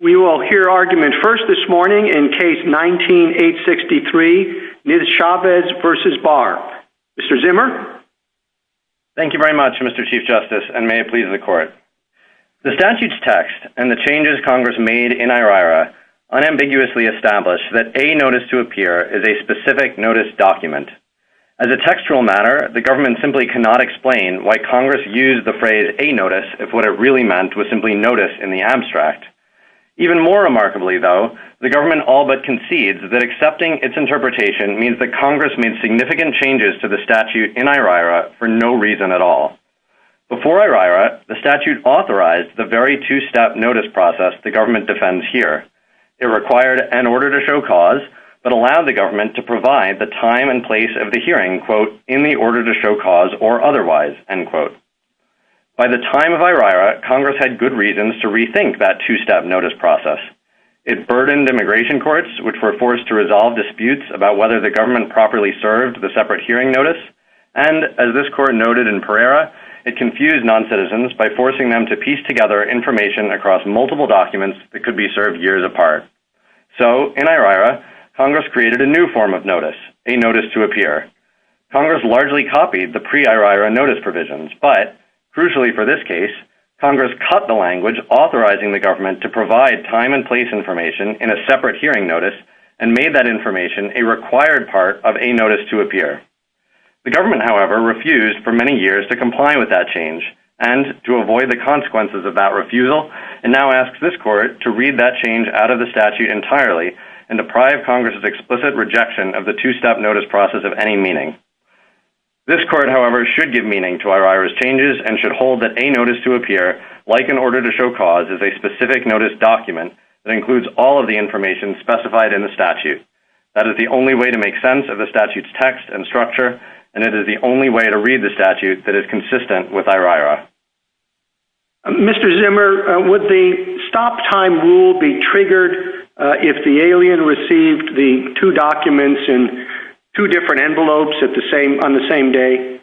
We will hear argument first this morning in case 19-863, Niz-Chavez v. Barr. Mr. Zimmer? Thank you very much, Mr. Chief Justice, and may it please the Court. The statute's text and the changes Congress made in IRIRA unambiguously established that a notice to appear is a specific notice document. As a textual matter, the government simply cannot explain why Congress used the phrase a notice if what it really meant was simply notice in the text. Even more remarkably, though, the government all but concedes that accepting its interpretation means that Congress made significant changes to the statute in IRIRA for no reason at all. Before IRIRA, the statute authorized the very two-step notice process the government defends here. It required an order to show cause, but allowed the government to provide the time and place of the hearing, quote, in the order to show cause or otherwise, end quote. By the time of IRIRA, Congress had already begun the notice process. It burdened immigration courts, which were forced to resolve disputes about whether the government properly served the separate hearing notice, and, as this court noted in Pereira, it confused non-citizens by forcing them to piece together information across multiple documents that could be served years apart. So, in IRIRA, Congress created a new form of notice, a notice to appear. Congress largely copied the pre-IRIRA notice provisions, but, crucially for this case, Congress cut the language authorizing the government to provide time and place information in a separate hearing notice, and made that information a required part of a notice to appear. The government, however, refused for many years to comply with that change and to avoid the consequences of that refusal, and now asks this court to read that change out of the statute entirely and deprive Congress's explicit rejection of the two-step notice process of any meaning. This court, however, should give meaning to IRIRA's changes and should hold that a notice to appear, like an order to show cause, is a specific notice document that includes all of the information specified in the statute. That is the only way to make sense of the statute's text and structure, and it is the only way to read the statute that is consistent with IRIRA. Mr. Zimmer, would the stop-time rule be triggered if the alien received the two documents in two different envelopes on the same day?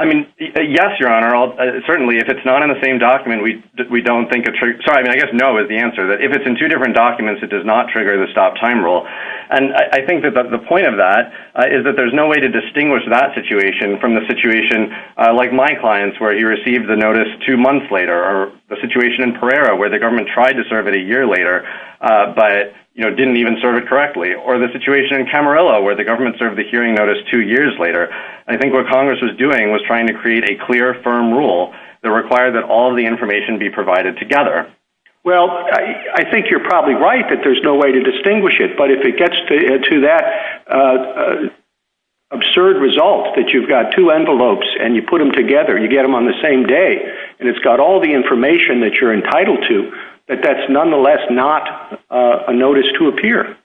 I mean, yes, Your Honor. Certainly, if it's not in the same document, we don't think—sorry, I guess no is the answer. If it's in two different documents, it does not trigger the stop-time rule, and I think that the point of that is that there's no way to distinguish that situation from the situation like my client's, where he received the notice two months later, or the situation in Pereira, where the government tried to serve it a year later, but didn't even serve it correctly, or the situation in Camarillo, where the government served the hearing notice two years later. I think what Congress was doing was trying to create a clear, firm rule that required that all the information be provided together. Well, I think you're probably right that there's no way to distinguish it, but if it gets to that absurd result that you've got two envelopes and you put them together, you get them on the same day, and it's got all the information that you're entitled to, that that's nonetheless not a notice to appear.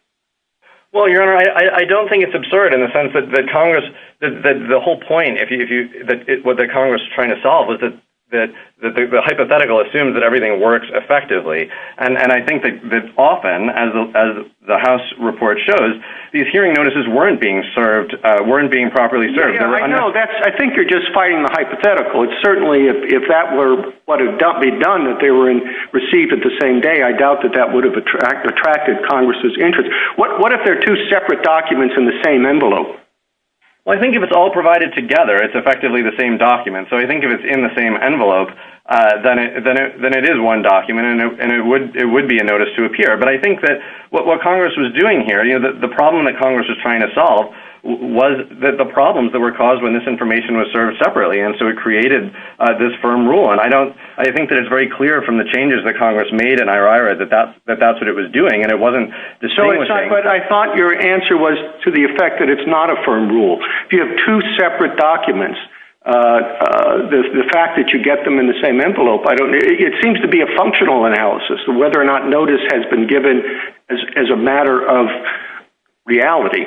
Well, Your Honor, I don't think it's absurd in the sense that the whole point that Congress is trying to solve is that the hypothetical assumes that everything works effectively, and I think that often, as the House report shows, these hearing notices weren't being properly served. I think you're just fighting the hypothetical. It's certainly, if that were what had been done, that they were received at the same day, I doubt that that would have attracted Congress's interest. What if they're two separate documents in the same envelope? Well, I think if it's all provided together, it's effectively the same document. So I think if it's in the same envelope, then it is one document, and it would be a notice to appear. But I think that what Congress was doing here, the problem that Congress was trying to solve was that the problems that were caused when this information was served separately, and so it created this firm rule. And I think that it's very clear from the changes that Congress made that that's what it was doing, and it wasn't the same thing. But I thought your answer was to the effect that it's not a firm rule. If you have two separate documents, the fact that you get them in the same envelope, it seems to be a functional analysis of whether or not notice has been given as a matter of reality.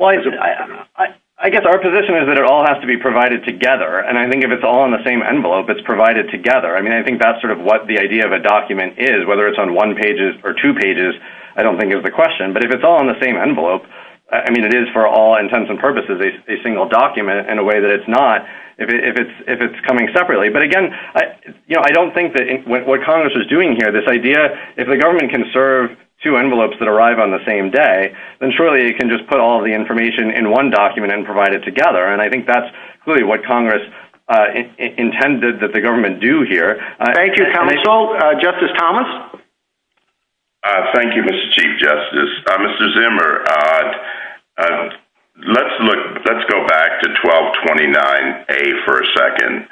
I guess our position is that it all has to be provided together, and I think if it's all in the same envelope, it's provided together. I mean, I think that's sort of what the idea of a document is, whether it's on one pages or two pages, I don't think is the question, but if it's all in the same envelope, I mean, it is for all intents and purposes, a single document in a way that it's not if it's coming separately. But again, I don't think that what Congress is doing here, this idea, if the government can serve two envelopes that arrive on the same day, then surely it can just put all the information in one document and provide it together. And I think that's clearly what Congress intended that the government do here. Thank you, counsel. Justice Thomas? Thank you, Mr. Chief Justice. Mr. Zimmer, let's go back to 1229A for a second.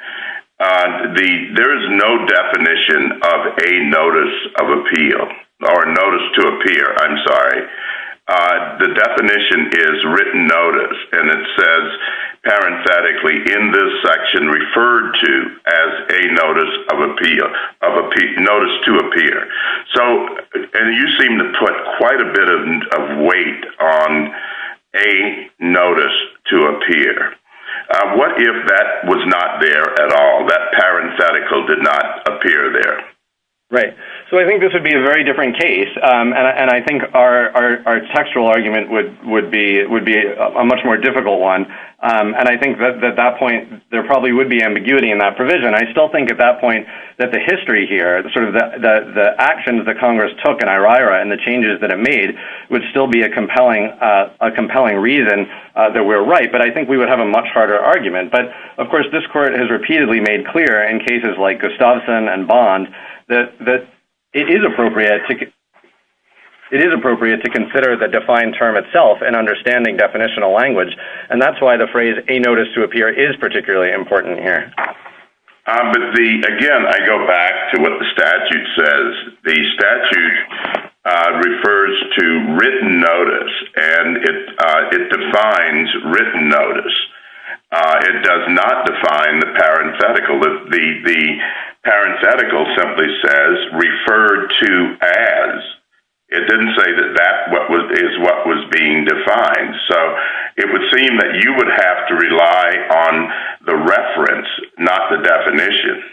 There is no definition of a notice of appeal, or notice to appear, I'm sorry. The definition is written notice, and it says parenthetically in this section referred to as a notice of appeal, notice to appear. And you seem to put quite a bit of weight on a notice to appear. What if that was not there at all, that parenthetical did not appear there? Right. So I think this would be a very different case. And I think our textual argument would be a much more difficult one. And I think that at that point, there probably would be ambiguity in that provision. I still think at that point, that the history here, sort of the actions that Congress took in IRIRA and the changes that it made, would still be a compelling reason that we're right. But I think we would have a much harder argument. But of course, this and bond, that it is appropriate to consider the defined term itself in understanding definitional language. And that's why the phrase a notice to appear is particularly important here. Again, I go back to what the statute says. The statute refers to written notice, and it defines written notice. It does not define the parenthetical. The parenthetical simply says referred to as. It didn't say that that is what was being defined. So it would seem that you would have to rely on the reference, not the definition.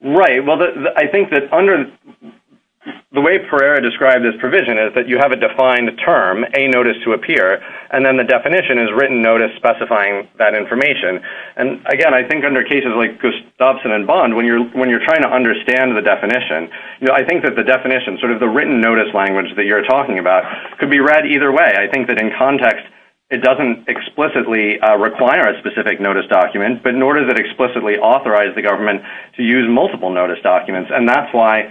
Right. Well, I think that under the way Pereira described this provision is that you have a defined term, a notice to appear, and then definition is written notice specifying that information. And again, I think under cases like Gustafson and Bond, when you're trying to understand the definition, I think that the definition, sort of the written notice language that you're talking about, could be read either way. I think that in context, it doesn't explicitly require a specific notice document, but nor does it explicitly authorize the government to use multiple notice documents. And that's why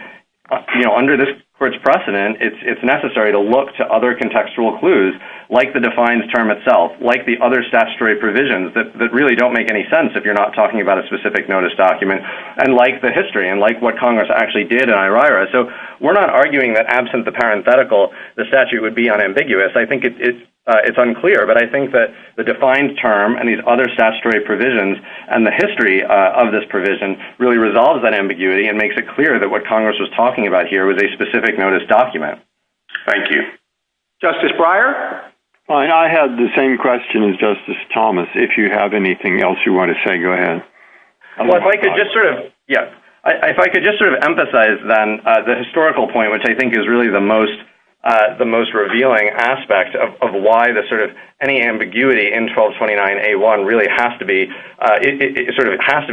under this court's precedent, it's necessary to look to other contextual clues, like the defined term itself, like the other statutory provisions that really don't make any sense if you're not talking about a specific notice document, and like the history and like what Congress actually did in IRIRA. So we're not arguing that absent the parenthetical, the statute would be unambiguous. I think it's unclear, but I think that the defined term and these other statutory provisions and the history of this provision really resolves that ambiguity and makes it clear that what Congress was talking about here was a specific notice document. Thank you. Justice Breyer? Fine. I have the same question as Justice Thomas. If you have anything else you want to say, go ahead. Yeah. If I could just sort of emphasize then the historical point, which I think is really the most revealing aspect of why any ambiguity in 1229A1 really has to be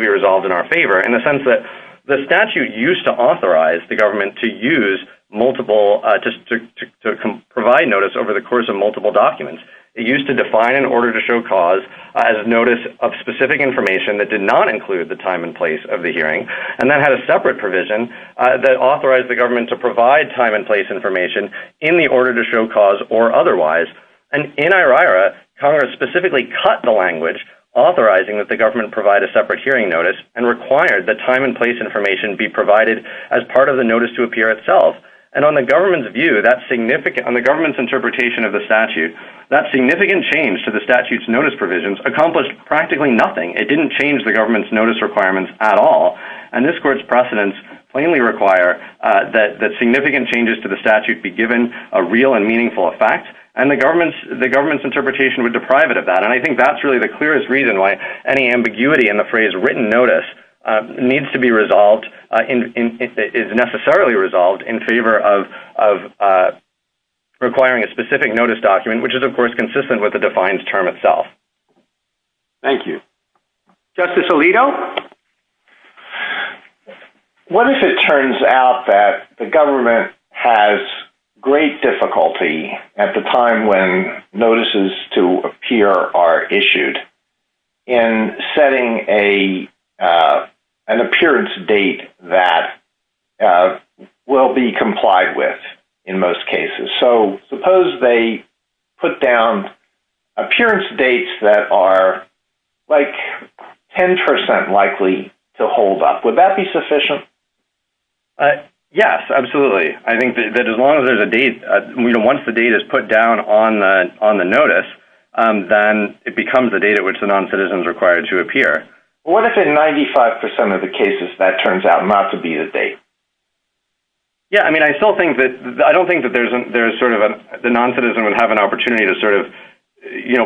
resolved in our favor, in the statute used to authorize the government to provide notice over the course of multiple documents. It used to define an order to show cause as a notice of specific information that did not include the time and place of the hearing. And that had a separate provision that authorized the government to provide time and place information in the order to show cause or otherwise. And in IRIRA, Congress specifically cut the language authorizing that the government provide a separate hearing notice and required that time and place information be provided as part of the notice to appear itself. And on the government's interpretation of the statute, that significant change to the statute's notice provisions accomplished practically nothing. It didn't change the government's notice requirements at all. And this court's precedents plainly require that significant changes to the statute be given a real and meaningful effect, and the government's interpretation would deprive it of that. And I think that's really the clearest reason why any ambiguity in the phrase written notice needs to be resolved, is necessarily resolved in favor of requiring a specific notice document, which is of course consistent with the defiance term itself. Thank you. Justice Alito? What if it turns out that the government has great difficulty at the time when notices to appear are issued in setting an appearance date that will be complied with in most cases? So suppose they put down appearance dates that are like 10% likely to hold up. Would that be sufficient? Yes, absolutely. I think that as long as the date is put down on the notice, then it becomes the date at which the non-citizen is required to appear. What if in 95% of the cases that turns out not to be the date? Yeah, I mean, I don't think that the non-citizen would have an opportunity to sort of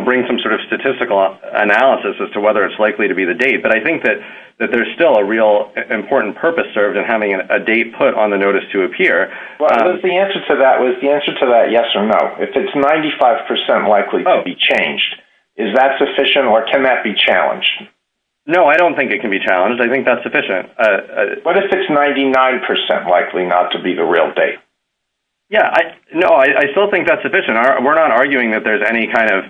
bring some sort of statistical analysis as to whether it's likely to be the date. But I think that there's still a real important purpose served in having a date put on the notice to appear. The answer to that was the answer to that yes or no. If it's 95% likely to be changed, is that sufficient or can that be challenged? No, I don't think it can be challenged. I think that's sufficient. What if it's 99% likely not to be the real date? Yeah, no, I still think that's sufficient. We're not arguing that there's any kind of...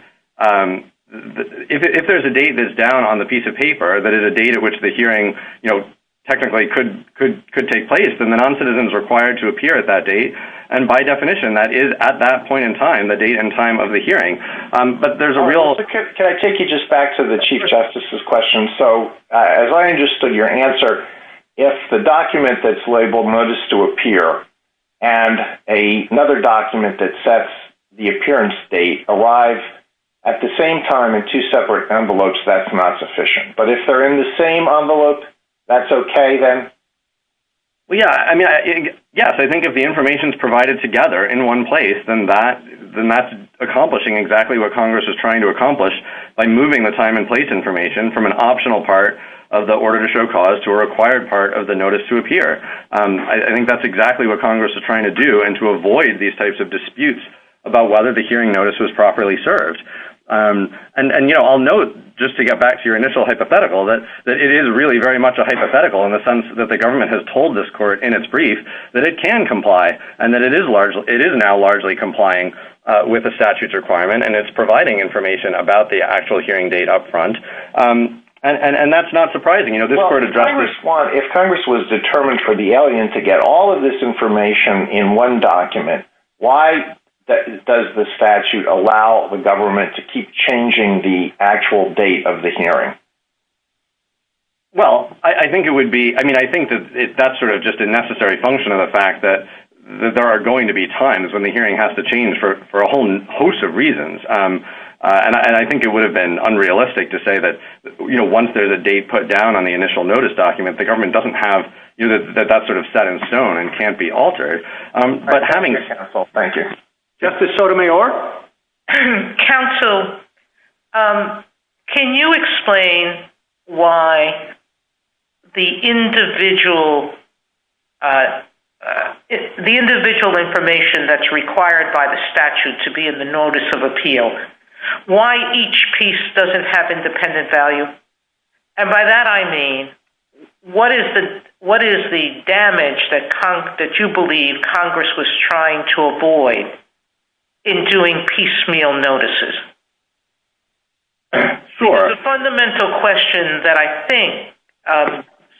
If there's a date that's down on the piece of paper that is a date at which the hearing technically could take place, then the non-citizen is required to appear at that date. And by definition, that is at that point in time, the date and time of the hearing. But there's a real... Can I take you just back to the Chief Justice's question? So as I understood your answer, if the document that's labeled notice to appear and another document that sets the appearance date alive at the same time in two separate envelopes, that's not sufficient. But if they're in the same envelope, that's okay then? Well, yeah. Yes, I think if the information is provided together in one place, then that's accomplishing exactly what Congress is trying to accomplish by moving the time and place information from an optional part of the order to show cause to a required part of the notice to appear. I think that's exactly what Congress is trying to do and to avoid these types of disputes about whether the hearing notice was properly served. And I'll note, just to get back to your hypothetical, that it is really very much a hypothetical in the sense that the government has told this court in its brief that it can comply and that it is now largely complying with the statute's requirement and it's providing information about the actual hearing date up front. And that's not surprising. This court addressed this- If Congress was determined for the alien to get all of this information in one document, why does the statute allow the government to keep changing the actual date of the hearing? Well, I think it would be... I mean, I think that that's sort of just a necessary function of the fact that there are going to be times when the hearing has to change for a whole host of reasons. And I think it would have been unrealistic to say that once there's a date put down on the initial notice document, the government doesn't have... That that's sort of set in stone and can't be altered. But having- Thank you, counsel. Thank you. Justice Sotomayor? Counsel, can you explain why the individual information that's required by the statute to be in the notice of appeal, why each piece doesn't have independent value? And by that, I mean, what is the damage that you believe Congress was trying to avoid in doing piecemeal notices? Sure. The fundamental question that I think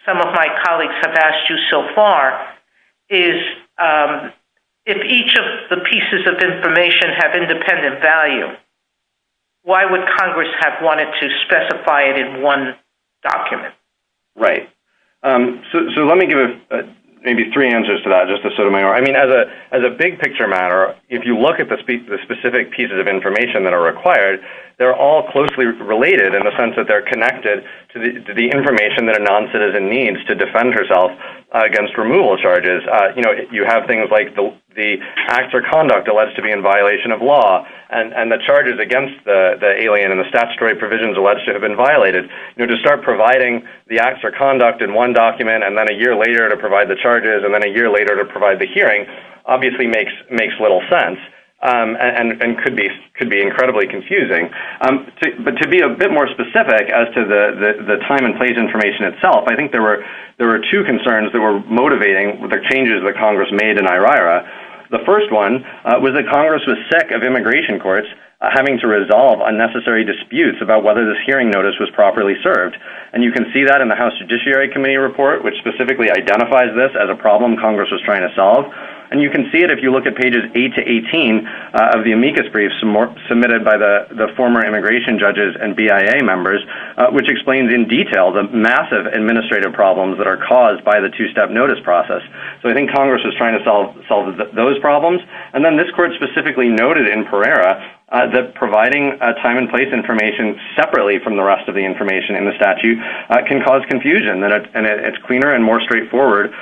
some of my colleagues have asked you so far is if each of the pieces of information have independent value, why would Congress have wanted to specify it in one document? Right. So let me give maybe three answers to that, Justice Sotomayor. I mean, as a big picture matter, if you look at the specific pieces of information that are required, they're all closely related in the sense that they're connected to the information that a non-citizen needs to defend herself against removal charges. You have things like the acts or conduct alleged to be in violation of law and the charges against the alien and the statutory provisions alleged to have been violated. To start providing the acts or conduct in one document and then a year later to provide the charges and then a year later to provide the hearing obviously makes little sense and could be incredibly confusing. But to be a bit more specific as to the time and place information itself, I think there were two concerns that were motivating the changes that Congress made in IRIRA. The first one was that Congress was sick of immigration courts having to resolve unnecessary disputes about whether this hearing notice was properly served. And you can see that in the House Judiciary Committee report, which specifically identifies this as a problem Congress was trying to solve. And you can see it if you look at pages 8 to 18 of the amicus briefs submitted by the former immigration judges and BIA members, which explains in detail the massive administrative problems that are caused by the two-step notice process. So I think Congress was trying to solve those problems. And then this court specifically noted in Pereira that providing a time and place information separately from the rest of the information in the statute can cause confusion. And it's cleaner and more straightforward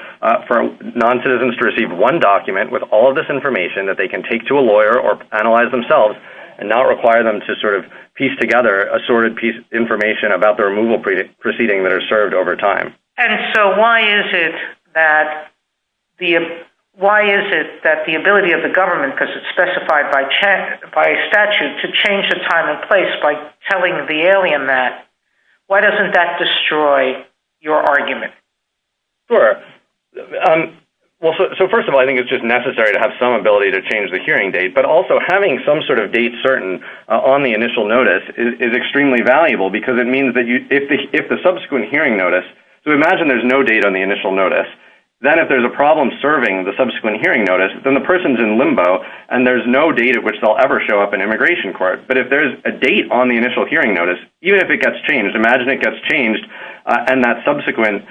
for non-citizens to receive one document with all of this information that they can take to a lawyer or analyze themselves and not require them to sort of piece together assorted piece of information about the removal proceeding that are served over time. And so why is it that the ability of the government, because it's specified by statute, to change the time and place by telling the alien that, why doesn't that destroy your argument? Sure. Well, so first of all, I think it's just necessary to have some ability to change the hearing date. But also having some sort of date certain on the initial notice is extremely valuable because it means that if the subsequent hearing notice, so imagine there's no date on the initial notice. Then if there's a problem serving the subsequent hearing notice, then the person's in immigration court. But if there's a date on the initial hearing notice, even if it gets changed, imagine it gets changed and that subsequent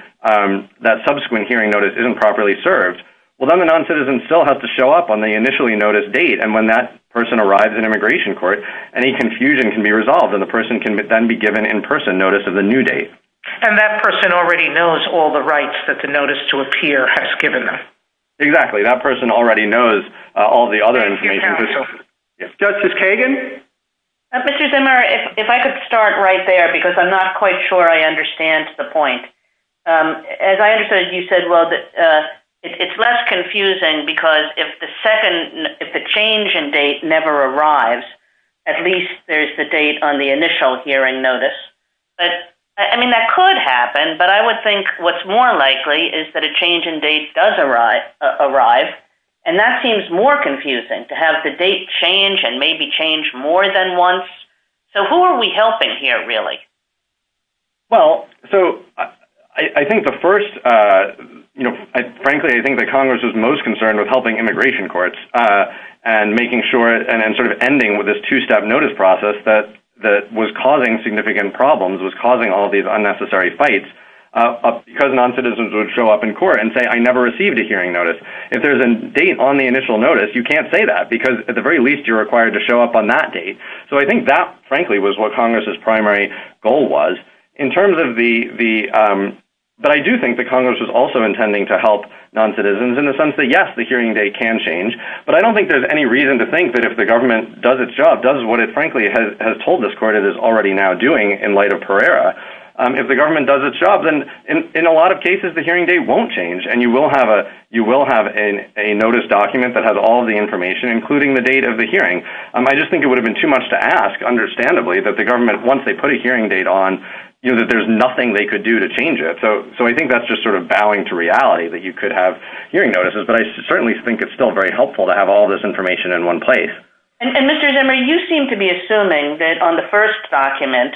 hearing notice isn't properly served. Well, then the non-citizen still has to show up on the initially noticed date. And when that person arrives in immigration court, any confusion can be resolved and the person can then be given in-person notice of the new date. And that person already knows all the rights that the notice to the date has. Justice Kagan? Mr. Zimmer, if I could start right there, because I'm not quite sure I understand the point. As I understood, you said, well, it's less confusing because if the change in date never arrives, at least there's the date on the initial hearing notice. I mean, that could happen, but I would think what's more likely is that a change in date does arrive. And that seems more confusing to have the date change and maybe change more than once. So who are we helping here, really? Well, so I think the first, you know, frankly, I think the Congress is most concerned with helping immigration courts and making sure and then sort of ending with this two-step notice process that was causing significant problems, was causing all these unnecessary fights, because non-citizens would show up in court and say, I never received a hearing notice. If there's a date on the initial notice, you can't say that, because at the very least, you're required to show up on that date. So I think that, frankly, was what Congress's primary goal was. But I do think the Congress was also intending to help non-citizens in the sense that, yes, the hearing date can change. But I don't think there's any reason to think that if the government does its job, does what it frankly has told this court it is already now doing in light of Pereira, if the government does its job, then in a lot of cases, the hearing date won't change. And you will have a notice document that has all the information, including the date of the hearing. I just think it would have been too much to ask, understandably, that the government, once they put a hearing date on, that there's nothing they could do to change it. So I think that's just sort of bowing to reality, that you could have hearing notices. But I certainly think it's still very helpful to have all this information in one place. And Mr. Zimmer, you seem to be assuming that on the first document,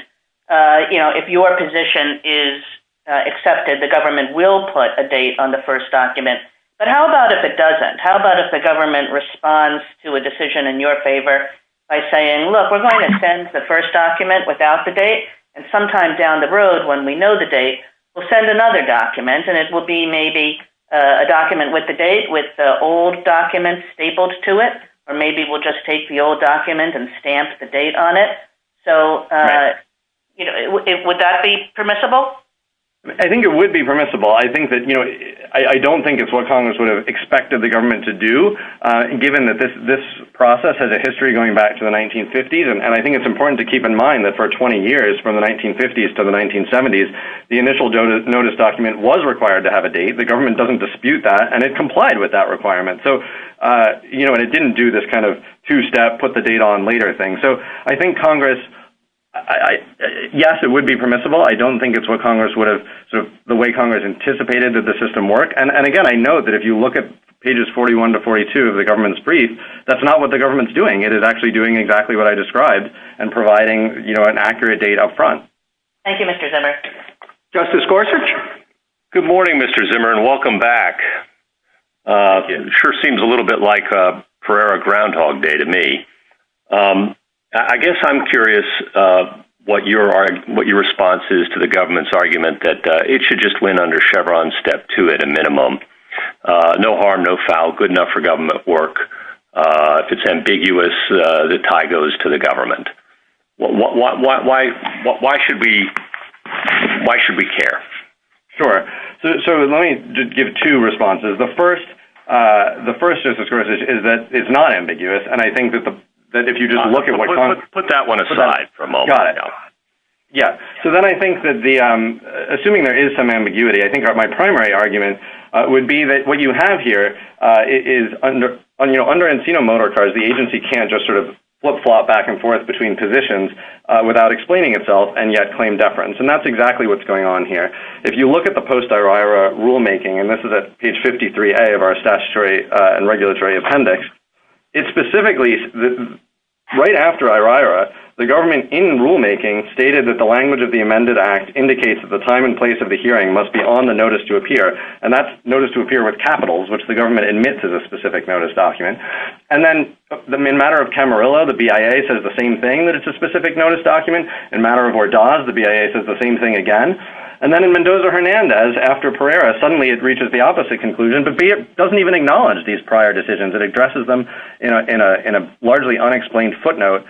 you know, if your position is accepted, the government will put a date on the first document. But how about if it doesn't? How about if the government responds to a decision in your favor by saying, look, we're going to send the first document without the date. And sometime down the road, when we know the date, we'll send another document and it will be maybe a document with the date, with the old document stapled to it. Or maybe we'll just take the old document and stamp the date on it. So would that be permissible? I think it would be permissible. I think that, you know, I don't think it's what Congress would have expected the government to do, given that this process has a history going back to the 1950s. And I think it's important to keep in mind that for 20 years, from the 1950s to the 1970s, the initial notice document was required to have a date. The government doesn't dispute that, and it complied with that requirement. So, you know, and it didn't do this kind of two-step, put the date on later thing. So I think Congress, yes, it would be permissible. I don't think it's sort of the way Congress anticipated that the system worked. And again, I know that if you look at pages 41 to 42 of the government's brief, that's not what the government's doing. It is actually doing exactly what I described and providing, you know, an accurate date up front. Thank you, Mr. Zimmer. Justice Gorsuch? Good morning, Mr. Zimmer, and welcome back. Sure seems a little bit like a Pereira Groundhog Day to me. I guess I'm curious what your response is to the government's argument that it should just win under Chevron step two at a minimum. No harm, no foul, good enough for government work. If it's ambiguous, the tie goes to the government. Why should we care? Sure. So let me just give two responses. The first, Justice Gorsuch, is that it's not that if you just look at what Congress... Put that one aside for a moment. Got it. Yeah. So then I think that the... Assuming there is some ambiguity, I think my primary argument would be that what you have here is under Encino Motor Cars, the agency can't just sort of flip-flop back and forth between positions without explaining itself and yet claim deference. And that's exactly what's going on here. If you look at the posterior rulemaking, and this is at page 53A of our statutory and regulatory appendix, it specifically... Right after IRIRA, the government in rulemaking stated that the language of the amended act indicates that the time and place of the hearing must be on the notice to appear, and that's notice to appear with capitals, which the government admits is a specific notice document. And then in matter of Camarillo, the BIA says the same thing, that it's a specific notice document. In matter of Hordaz, the BIA says the same thing again. And then in Mendoza Hernandez, after Pereira, suddenly it reaches the opposite conclusion. The BIA doesn't even acknowledge these prior decisions. It addresses them in a largely unexplained footnote,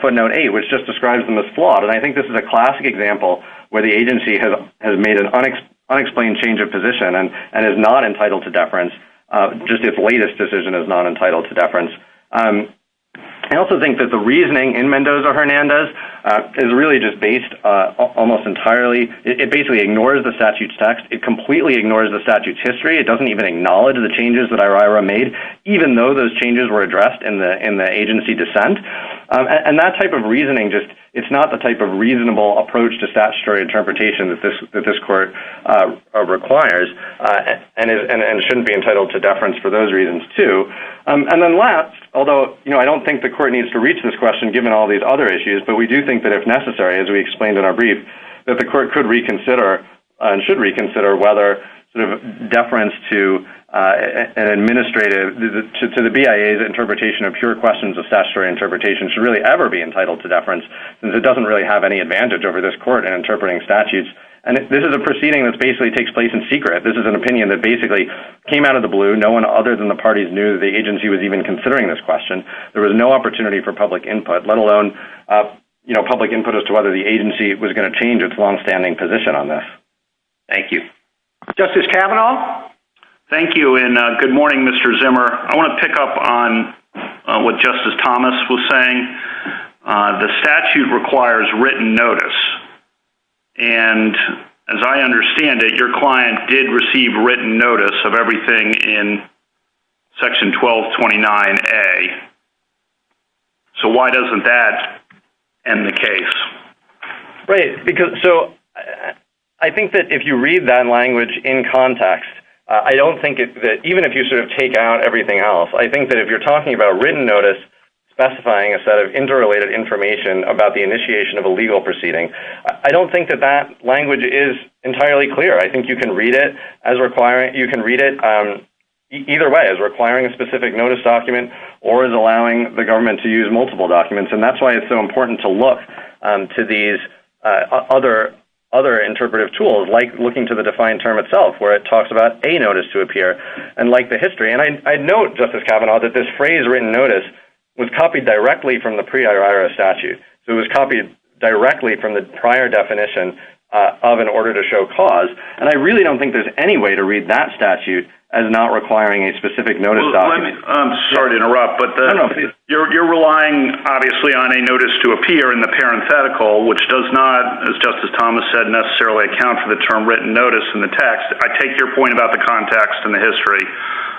footnote eight, which just describes them as flawed. And I think this is a classic example where the agency has made an unexplained change of position and is not entitled to deference, just its latest decision is not entitled to deference. I also think that the reasoning in Mendoza Hernandez is really just based almost entirely... It basically ignores the statute's text. It completely ignores the statute's history. It doesn't even acknowledge the changes that IRIRA made, even though those changes were addressed in the agency dissent. And that type of reasoning, just it's not the type of reasonable approach to statutory interpretation that this court requires and shouldn't be entitled to deference for those reasons too. And then last, although I don't think the court needs to reach this question given all these other issues, but we do think that it's necessary, as we explained in our brief, that the court could reconsider and should reconsider whether deference to an administrative, to the BIA's interpretation of pure questions of statutory interpretation should really ever be entitled to deference, since it doesn't really have any advantage over this court in interpreting statutes. And this is a proceeding that basically takes place in secret. This is an opinion that basically came out of the blue. No one other than the parties knew the agency was even considering this question. There was no opportunity for public input, let alone public input as to whether the agency was going to change its longstanding position on this. Thank you. Justice Kavanaugh? Thank you. And good morning, Mr. Zimmer. I want to pick up on what Justice Thomas was saying. The statute requires written notice. And as I mentioned, Section 1229A. So why doesn't that end the case? Right. Because, so I think that if you read that language in context, I don't think that even if you sort of take out everything else, I think that if you're talking about written notice specifying a set of interrelated information about the initiation of a legal proceeding, I don't think that that language is entirely clear. I think you can read it as requiring, you can read it either way, as requiring a specific notice document or as allowing the government to use multiple documents. And that's why it's so important to look to these other interpretive tools, like looking to the defined term itself, where it talks about a notice to appear and like the history. And I note, Justice Kavanaugh, that this phrase written notice was copied directly from the pre-IRS statute. So it was copied directly from the prior definition of an order to show cause. And I really don't think there's any way to read that statute as not requiring a specific notice document. I'm sorry to interrupt, but you're relying obviously on a notice to appear in the parenthetical, which does not, as Justice Thomas said, necessarily account for the term written notice in the text. I take your point about the context and the history.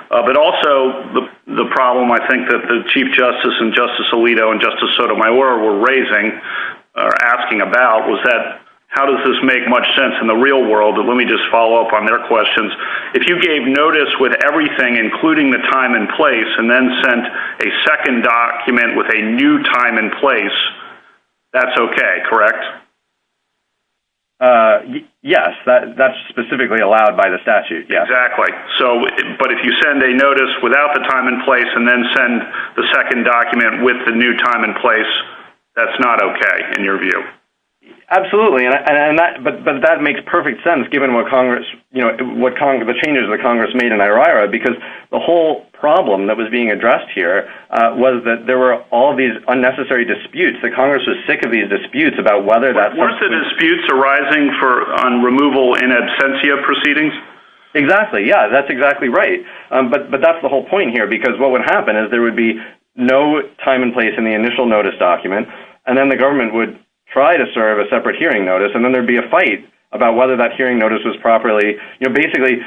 But also the problem I think that the Chief Justice and Justice Alito and Justice Sotomayor were raising or asking about was that, how does this make much sense in the real world? And let me just follow up on their questions. If you gave notice with everything, including the time and place, and then sent a second document with a new time and place, that's okay, correct? Yes, that's specifically allowed by the statute, yes. Exactly. So, but if you send a notice without the time and place and then send the second document with the new time and place, that's not okay, in your view? Absolutely. But that makes perfect sense given what Congress, you know, the changes that Congress made in IRIRA, because the whole problem that was being addressed here was that there were all these unnecessary disputes. The Congress was sick of these disputes about whether that... Weren't the disputes arising on removal in absentia proceedings? Exactly. Yeah, that's exactly right. But that's the whole point here, because what would happen is there would be no time and place in the initial notice document, and then the government would try to serve a separate hearing notice, and then there'd be a fight about whether that hearing notice was properly... You know, basically,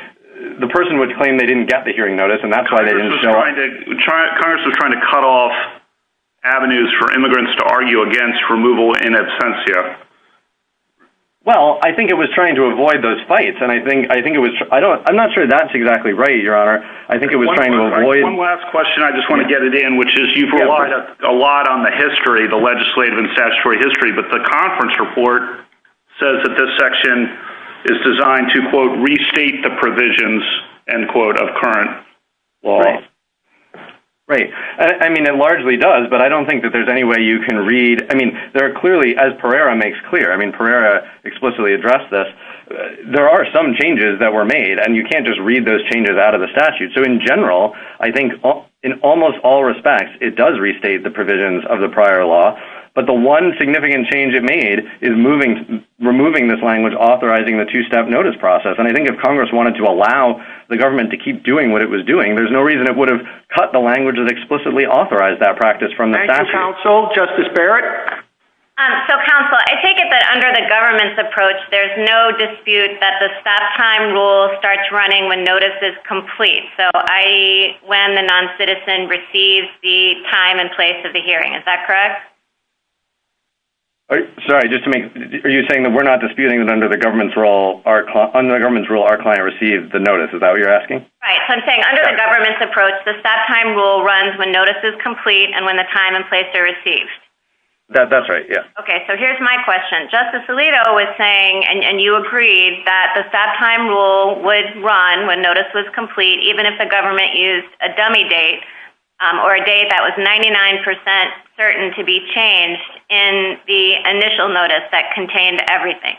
the person would claim they didn't get the hearing notice, and that's why they didn't start... Congress was trying to cut off avenues for immigrants to argue against removal in absentia. Well, I think it was trying to avoid those fights, and I think it was... I don't... I'm sure that's exactly right, Your Honor. I think it was trying to avoid... One last question. I just want to get it in, which is you've relied a lot on the history, the legislative and statutory history, but the conference report says that this section is designed to, quote, restate the provisions, end quote, of current law. Right. I mean, it largely does, but I don't think that there's any way you can read... I mean, there are clearly, as Pereira makes clear, I mean, Pereira explicitly addressed this, there are some changes that were made, and you can't just read those changes out of the statute. So, in general, I think in almost all respects, it does restate the provisions of the prior law, but the one significant change it made is removing this language authorizing the two-step notice process, and I think if Congress wanted to allow the government to keep doing what it was doing, there's no reason it would have cut the language that explicitly authorized that practice from the statute. Thank you, Counsel. Justice Barrett? So, Counsel, I take it that under the government's approach, there's no dispute that the stop time rule starts running when notice is complete, so, i.e., when the noncitizen receives the time and place of the hearing. Is that correct? Sorry, just to make... Are you saying that we're not disputing that under the government's rule, our client receives the notice? Is that what you're asking? Right. So, I'm saying under the government's approach, the stop time rule runs when notice is complete and when the time and place are received. That's right, yeah. Okay, so here's my question. Justice Alito was saying, and you agreed, that the stop time rule would run when notice was complete, even if the government used a dummy date or a date that was 99 percent certain to be changed in the initial notice that contained everything.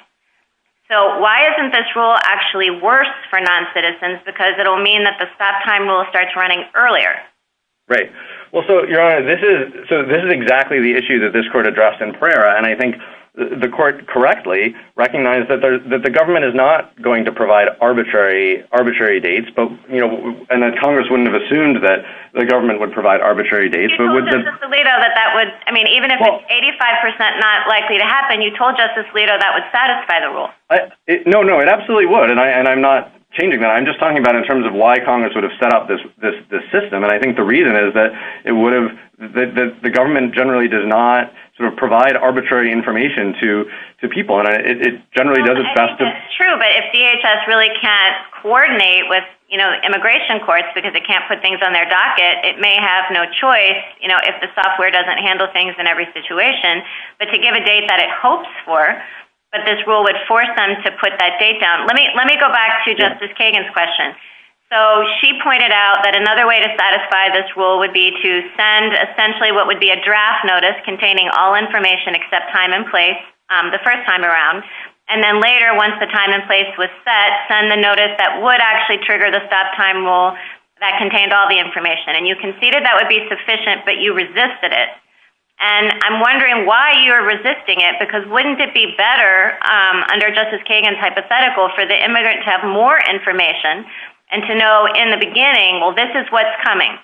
So, why isn't this rule actually worse for noncitizens? Because it'll mean that the stop time will start running earlier. Right. Well, so, Your Honor, this is... So, this is exactly the issue that this court addressed in prayer, and I think the court correctly recognized that the government is not going to provide arbitrary dates, but, you know, and that Congress wouldn't have assumed that the government would provide arbitrary dates, but... You told Justice Alito that that would... I mean, even if it's 85 percent not likely to happen, you told Justice Alito that would satisfy the rule. No, no, it absolutely would, and I'm not changing that. I'm just talking about in terms of why Congress would have set up this system, and I think the reason is that it would have... The government generally does not sort of provide arbitrary information to people, and it generally does its best to... That's true, but if DHS really can't coordinate with, you know, immigration courts because they can't put things on their docket, it may have no choice, you know, if the software doesn't handle things in every situation, but to give a date that it hopes for, but this rule would force them to put that date down. Let me go back to Justice Kagan's question. So, she pointed out that another way to satisfy this rule would be to send essentially what would be a draft notice containing all information except time and place the first time around, and then later, once the time and place was set, send the notice that would actually trigger the stop time rule that contained all the information, and you conceded that would be sufficient, but you resisted it, and I'm wondering why you're for the immigrant to have more information and to know in the beginning, well, this is what's coming.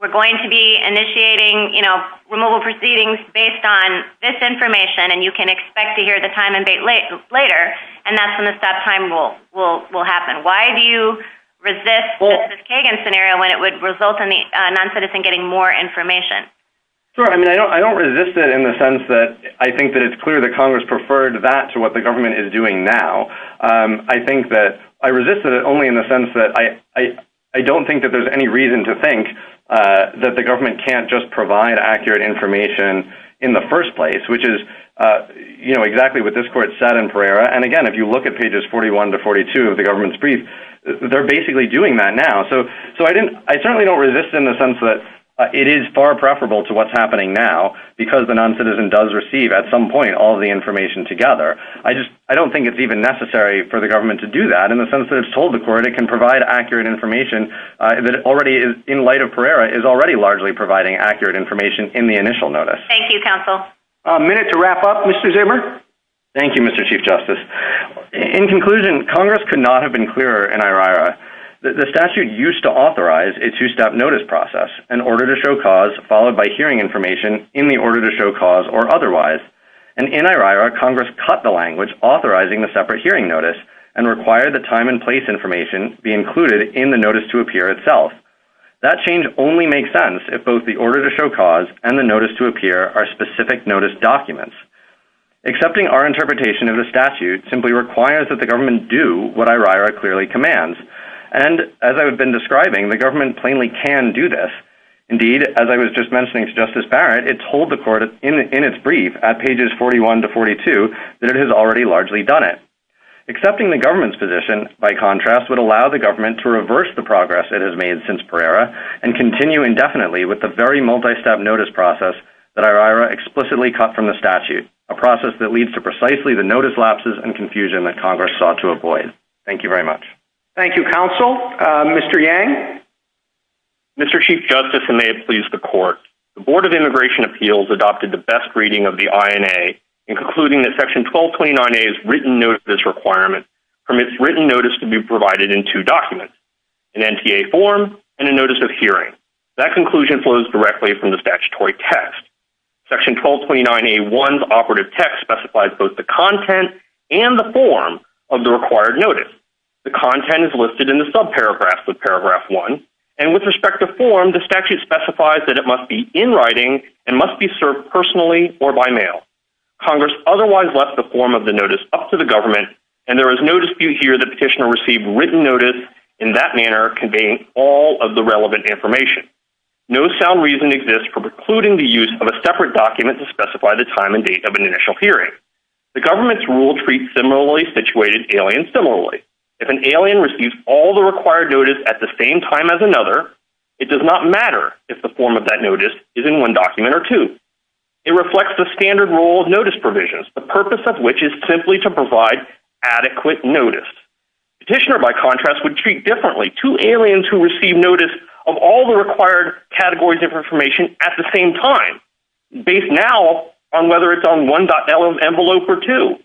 We're going to be initiating, you know, removal proceedings based on this information, and you can expect to hear the time and date later, and that's when the stop time rule will happen. Why do you resist Justice Kagan's scenario when it would result in the noncitizen getting more information? Sure. I mean, I don't resist it in the sense that I think that it's clear that I think that I resisted it only in the sense that I don't think that there's any reason to think that the government can't just provide accurate information in the first place, which is, you know, exactly what this court said in Pereira, and again, if you look at pages 41 to 42 of the government's brief, they're basically doing that now. So, I certainly don't resist in the sense that it is far preferable to what's happening now because the noncitizen does receive at some point all the information together. I just, I don't think it's even necessary for the government to do that in the sense that it's told the court it can provide accurate information that already is, in light of Pereira, is already largely providing accurate information in the initial notice. Thank you, counsel. A minute to wrap up, Mr. Zimmer. Thank you, Mr. Chief Justice. In conclusion, Congress could not have been clearer in IRI. The statute used to authorize a two-step notice process, an order to show cause, followed by hearing information in the order to show cause or otherwise. And in IRIRA, Congress cut the language authorizing the separate hearing notice and required the time and place information be included in the notice to appear itself. That change only makes sense if both the order to show cause and the notice to appear are specific notice documents. Accepting our interpretation of the statute simply requires that the government do what IRIRA clearly commands. And as I've been describing, the government plainly can do this. Indeed, as I was just mentioning to Justice Barrett, it told the court in its brief, at pages 41 to 42, that it has already largely done it. Accepting the government's position, by contrast, would allow the government to reverse the progress it has made since Pereira and continue indefinitely with the very multi-step notice process that IRIRA explicitly cut from the statute, a process that leads to precisely the notice lapses and confusion that Congress sought to avoid. Thank you very much. Thank you, counsel. Mr. Yang. Mr. Chief Justice, and may it please the court, the Board of Immigration Appeals adopted the best reading of the INA in concluding that Section 1229A's written notice requirement permits written notice to be provided in two documents, an NTA form and a notice of hearing. That conclusion flows directly from the statutory text. Section 1229A1's operative text specifies both the content and the form of the required notice. The content is listed in the subparagraphs one and with respect to form, the statute specifies that it must be in writing and must be served personally or by mail. Congress otherwise left the form of the notice up to the government and there is no dispute here the petitioner received written notice in that manner conveying all of the relevant information. No sound reason exists for precluding the use of a separate document to specify the time and date of an initial hearing. The government's rule treats situated alien similarly. If an alien receives all the required notice at the same time as another, it does not matter if the form of that notice is in one document or two. It reflects the standard rule of notice provisions, the purpose of which is simply to provide adequate notice. Petitioner, by contrast, would treat differently two aliens who receive notice of all the required categories of information at the same time based now on whether it's on one envelope or two.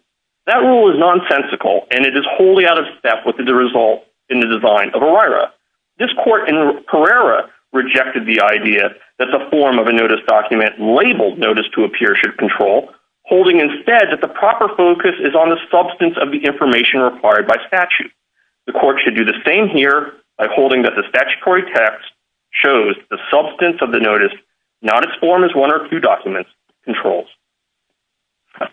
That rule is nonsensical and it is wholly out of step with the result in the design of ERIRA. This court in Pereira rejected the idea that the form of a notice document labeled notice to appear should control, holding instead that the proper focus is on the substance of the information required by statute. The court should do the same here by holding that the statutory text shows the substance of the notice, not its form as one or two documents controls.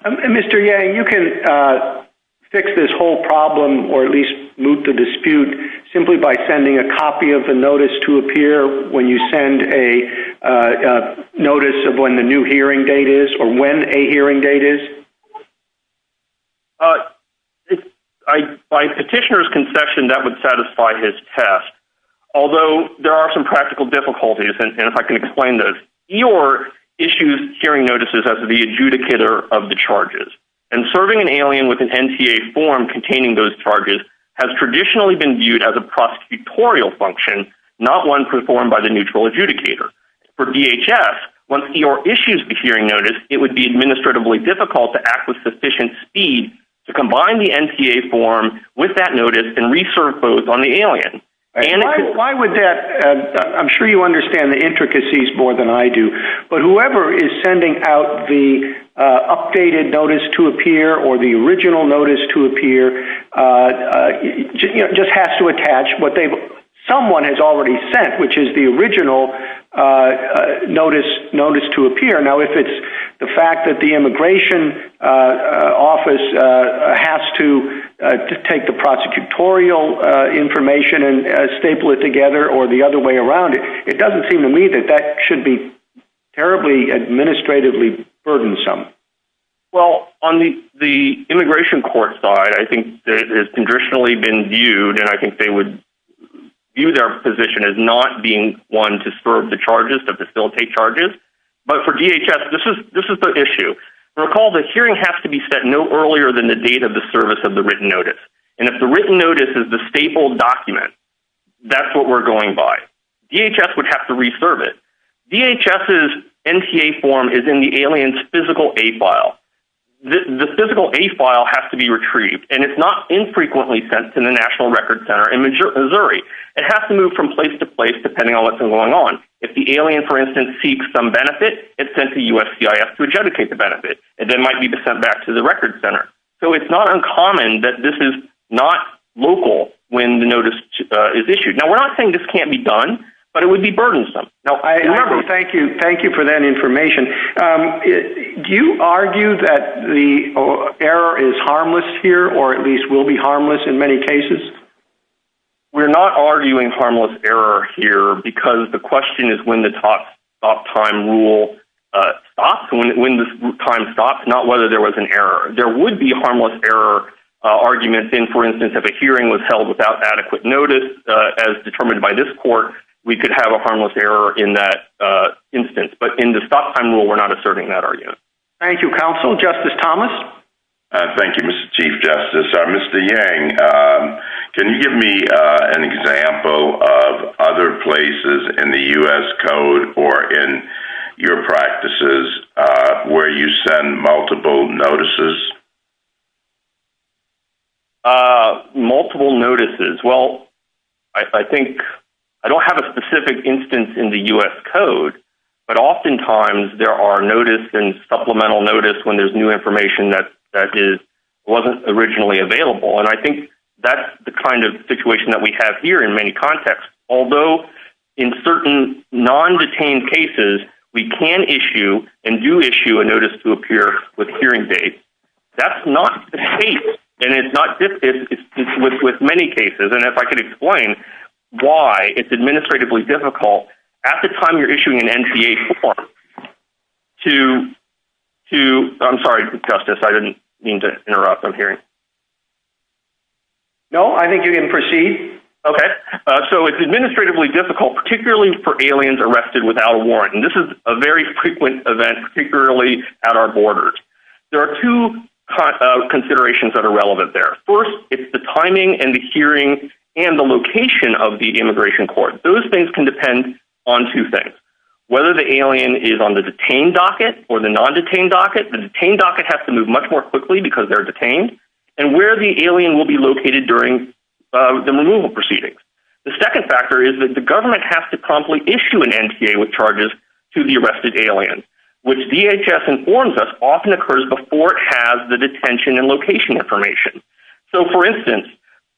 Mr. Yang, you can fix this whole problem or at least moot the dispute simply by sending a copy of the notice to appear when you send a notice of when the new hearing date is or when a hearing date is? By petitioner's concession, that would satisfy his test. Although there are some practical difficulties, and if I can explain those, EOIR issues hearing notices as the adjudicator of the charges. And serving an alien with an NTA form containing those charges has traditionally been viewed as a prosecutorial function, not one performed by the neutral adjudicator. For DHS, once EOIR issues the hearing notice, it would be administratively difficult to act with sufficient speed to combine the NTA form with that notice and re-serve both on the alien. Why would that? I'm sure you understand the intricacies more than I do, but whoever is sending out the updated notice to appear or the original notice to appear just has to attach what someone has already sent, which is the original notice to appear. Now, if it's the fact that the immigration office has to take the stapler together or the other way around, it doesn't seem to me that that should be terribly administratively burdensome. Well, on the immigration court side, I think it's traditionally been viewed, and I think they would view their position as not being one to serve the charges, to facilitate charges. But for DHS, this is the issue. Recall the hearing has to be set no earlier than the date of the service of the written notice. And if the written notice is the staple document, that's what we're going by. DHS would have to re-serve it. DHS's NTA form is in the alien's physical A file. The physical A file has to be retrieved, and it's not infrequently sent to the National Records Center in Missouri. It has to move from place to place, depending on what's going on. If the alien, for instance, seeks some benefit, it's sent to USCIS to adjudicate the benefit. It then might be sent back to the records center. So it's not uncommon that this is not local when the notice is issued. Now, we're not saying this can't be done, but it would be burdensome. Now, thank you. Thank you for that information. Do you argue that the error is harmless here, or at least will be harmless in many cases? We're not arguing harmless error here because the question is when the stop time rule stops, when the time stops, not whether there was an error. There would be harmless error arguments in, for instance, if a hearing was held without adequate notice, as determined by this court, we could have a harmless error in that instance. But in the stop time rule, we're not asserting that argument. Thank you, counsel. Justice Thomas? Thank you, Mr. Chief Justice. Mr. Yang, can you give me an example of other places in the U.S. Code or in your practices where you send multiple notices? Multiple notices. Well, I think I don't have a specific instance in the U.S. Code, but oftentimes there are notice and supplemental notice when there's new information that wasn't originally available. And I think that's the kind of situation that we have here in many contexts. Although in certain non-detained cases, we can issue and do issue a notice to appear with hearing aids, that's not the case. And it's not with many cases. And if I could explain why it's administratively difficult at the time you're issuing an NGA form to, I'm sorry, Justice, I didn't mean to interrupt from here. No, I think you didn't proceed. Okay. So it's administratively difficult, particularly for aliens arrested without a warrant. And this is a very frequent event, particularly at our borders. There are two considerations that are relevant there. First, it's the timing and the hearing and the location of the immigration court. Those things can depend on two things. Whether the alien is on the detained docket or the non-detained docket, the detained docket has to move much more quickly because they're detained and where the alien will be located during the removal proceedings. The second factor is that the government has to promptly issue an NGA with charges to the arrested alien, which DHS informs us often occurs before it has the detention and for instance,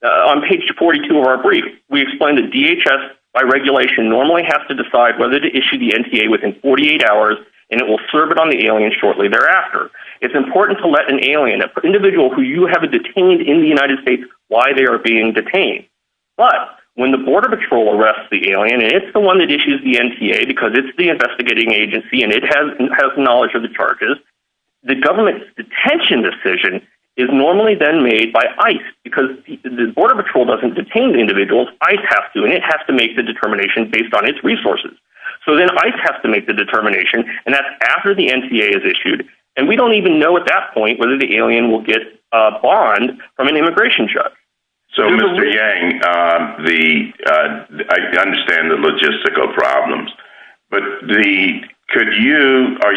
on page 42 of our brief, we explain that DHS by regulation normally has to decide whether to issue the NGA within 48 hours and it will serve it on the alien shortly thereafter. It's important to let an alien, an individual who you have detained in the United States, why they are being detained. But when the border patrol arrests the alien, and it's the one that issues the NGA because it's the investigating agency and it has knowledge of the charges, the government's detention decision is normally then made by ICE because the border patrol doesn't detain the individuals, ICE has to and it has to make the determination based on its resources. So then ICE has to make the determination and that's after the NGA is issued and we don't even know at that point whether the alien will get a bond from an immigration judge. So, Mr. Yang, I understand the logistical problems, but are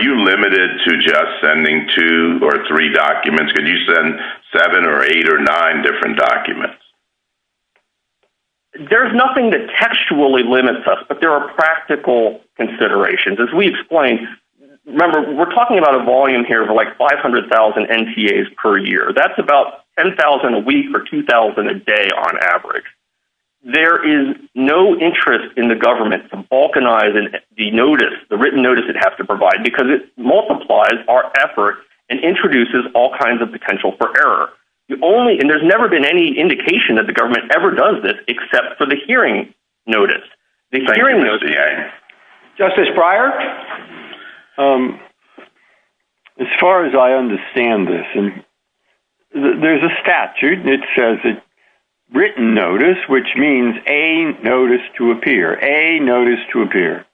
you limited to just sending two or three documents? Could you send seven or eight or nine different documents? There's nothing that textually limits us, but there are practical considerations. As we explain, remember, we're talking about a volume here of like 500,000 NTAs per year. That's about 10,000 a week or 2000 a day on average. There is no interest in the government from balkanizing the notice, the written notice it has to provide because it multiplies our effort and introduces all kinds of potential for error. And there's never been any indication that the government ever does this except for the hearing notice. Justice Breyer? As far as I understand this, there's a statute that says a written notice, which means a notice to appear, a notice to appear,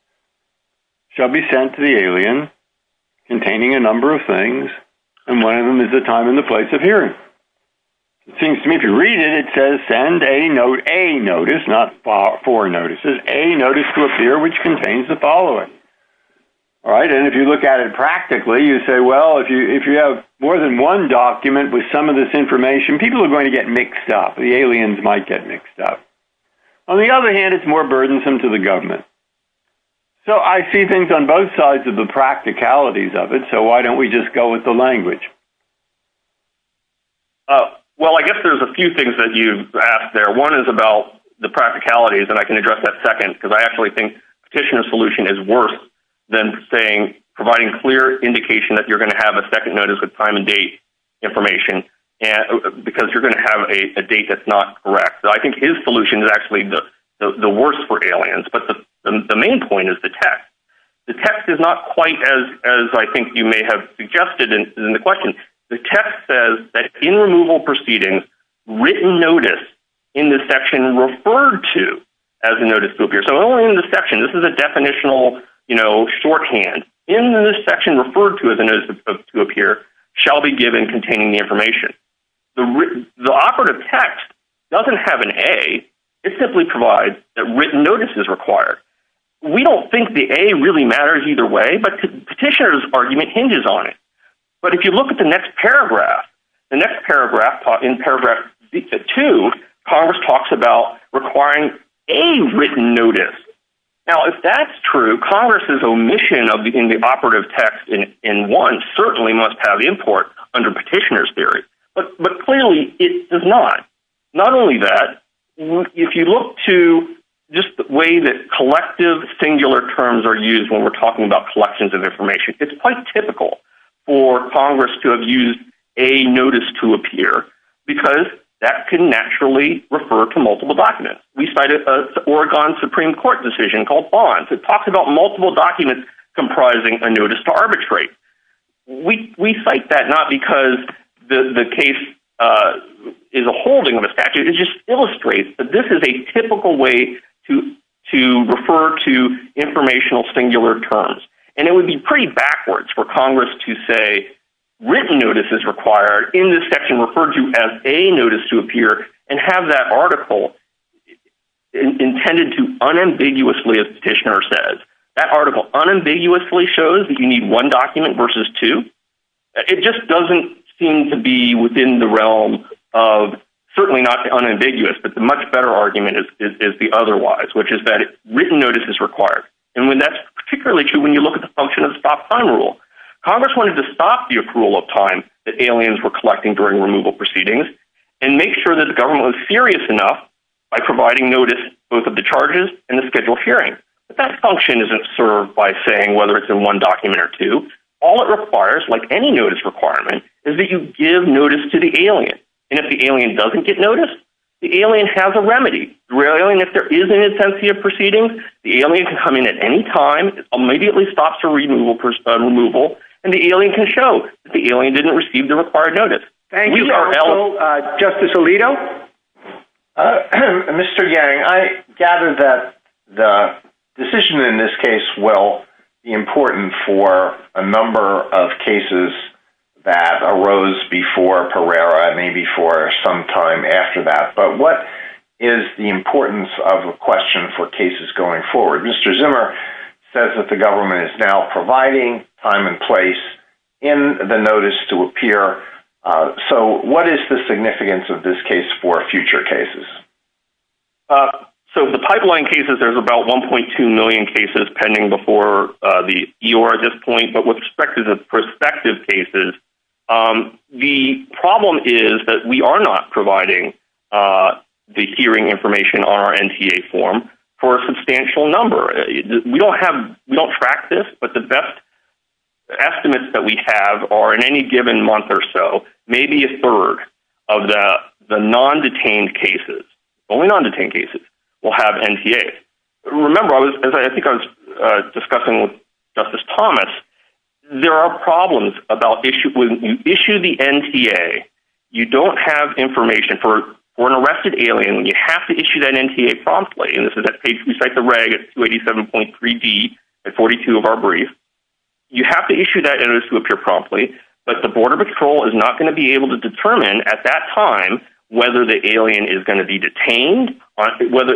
shall be sent to the alien containing a number of things and one of them is the time and the place of hearing. It seems to me to read it, it says send a notice, not four notices, a notice to appear which contains the following. And if you look at it practically, you say, well, if you have more than one document with some of this information, people are going to get mixed up. The aliens might get mixed up. On the other hand, it's more burdensome to the government. So I see things on both sides of the practicalities of it. So why don't we just go with the language? Well, I guess there's a few things that you asked there. One is about the practicalities and I can address that second because I actually think Petitioner's solution is worse than saying, providing clear indication that you're going to have a second notice with time and date information because you're going to have a date that's not correct. So I think his solution is actually the worst for aliens. But the main point is the text. The text is not quite as I think you may have suggested in the question. The text says that in removal proceedings, written notice in the section referred to as a notice to appear. So only in the section, this is a definitional, you know, shorthand in the section referred to as a notice to appear shall be given containing the information. The operative text doesn't have an A. It simply provides that written notice is required. We don't think the A really matters either way, but Petitioner's argument hinges on it. But if you look at the next paragraph, the next paragraph in paragraph two, Congress talks about requiring a written notice. Now, if that's true, Congress's omission of the operative text in one certainly must have import under Petitioner's theory, but clearly it does not. Not only that, if you look to just the way that collective singular terms are used when we're for Congress to have used a notice to appear, because that can naturally refer to multiple documents. We cited Oregon Supreme Court decision called Bonds. It talks about multiple documents comprising a notice to arbitrate. We cite that not because the case is a holding of a statute, it just illustrates that this is a typical way to refer to informational singular terms. And it would be pretty backwards for Congress to say written notice is required in this section referred to as a notice to appear and have that article intended to unambiguously, as Petitioner says, that article unambiguously shows that you need one document versus two. It just doesn't seem to be within the realm of certainly not unambiguous, but the much better argument is the otherwise, which is that written notice is required. And when that's particularly true, you look at the function of stop time rule. Congress wanted to stop the approval of time that aliens were collecting during the removal proceedings and make sure that the government was serious enough by providing notice, both of the charges and the scheduled hearing. But that function isn't served by saying whether it's in one document or two. All it requires, like any notice requirement, is that you give notice to the alien. And if the alien doesn't get notice, the alien has a remedy. If there is an intensity of proceedings, the alien can come at any time, immediately stops a removal and the alien can show that the alien didn't receive the required notice. Thank you, Justice Alito. Mr. Yang, I gather that the decision in this case will be important for a number of cases that arose before Pereira, maybe for some time after that. But what is the importance of a question for cases going forward? Mr. Zimmer says that the government is now providing time and place in the notice to appear. So what is the significance of this case for future cases? So the pipeline cases, there's about 1.2 million cases pending before the EOR at this point. But perspective cases, the problem is that we are not providing the hearing information on our NTA form for a substantial number. We don't have, we don't track this, but the best estimates that we have are in any given month or so, maybe a third of the non-detained cases, only non-detained cases, will have NTA. Remember, as I think I was discussing with Justice Thomas, there are problems about issue, when you issue the NTA, you don't have information for an arrested alien. When you have to issue that NTA promptly, and this is at page, we cite the reg at 287.3b and 42 of our brief, you have to issue that notice to appear promptly, but the border patrol is not going to be able to determine at that time whether the alien is going to be detained, whether,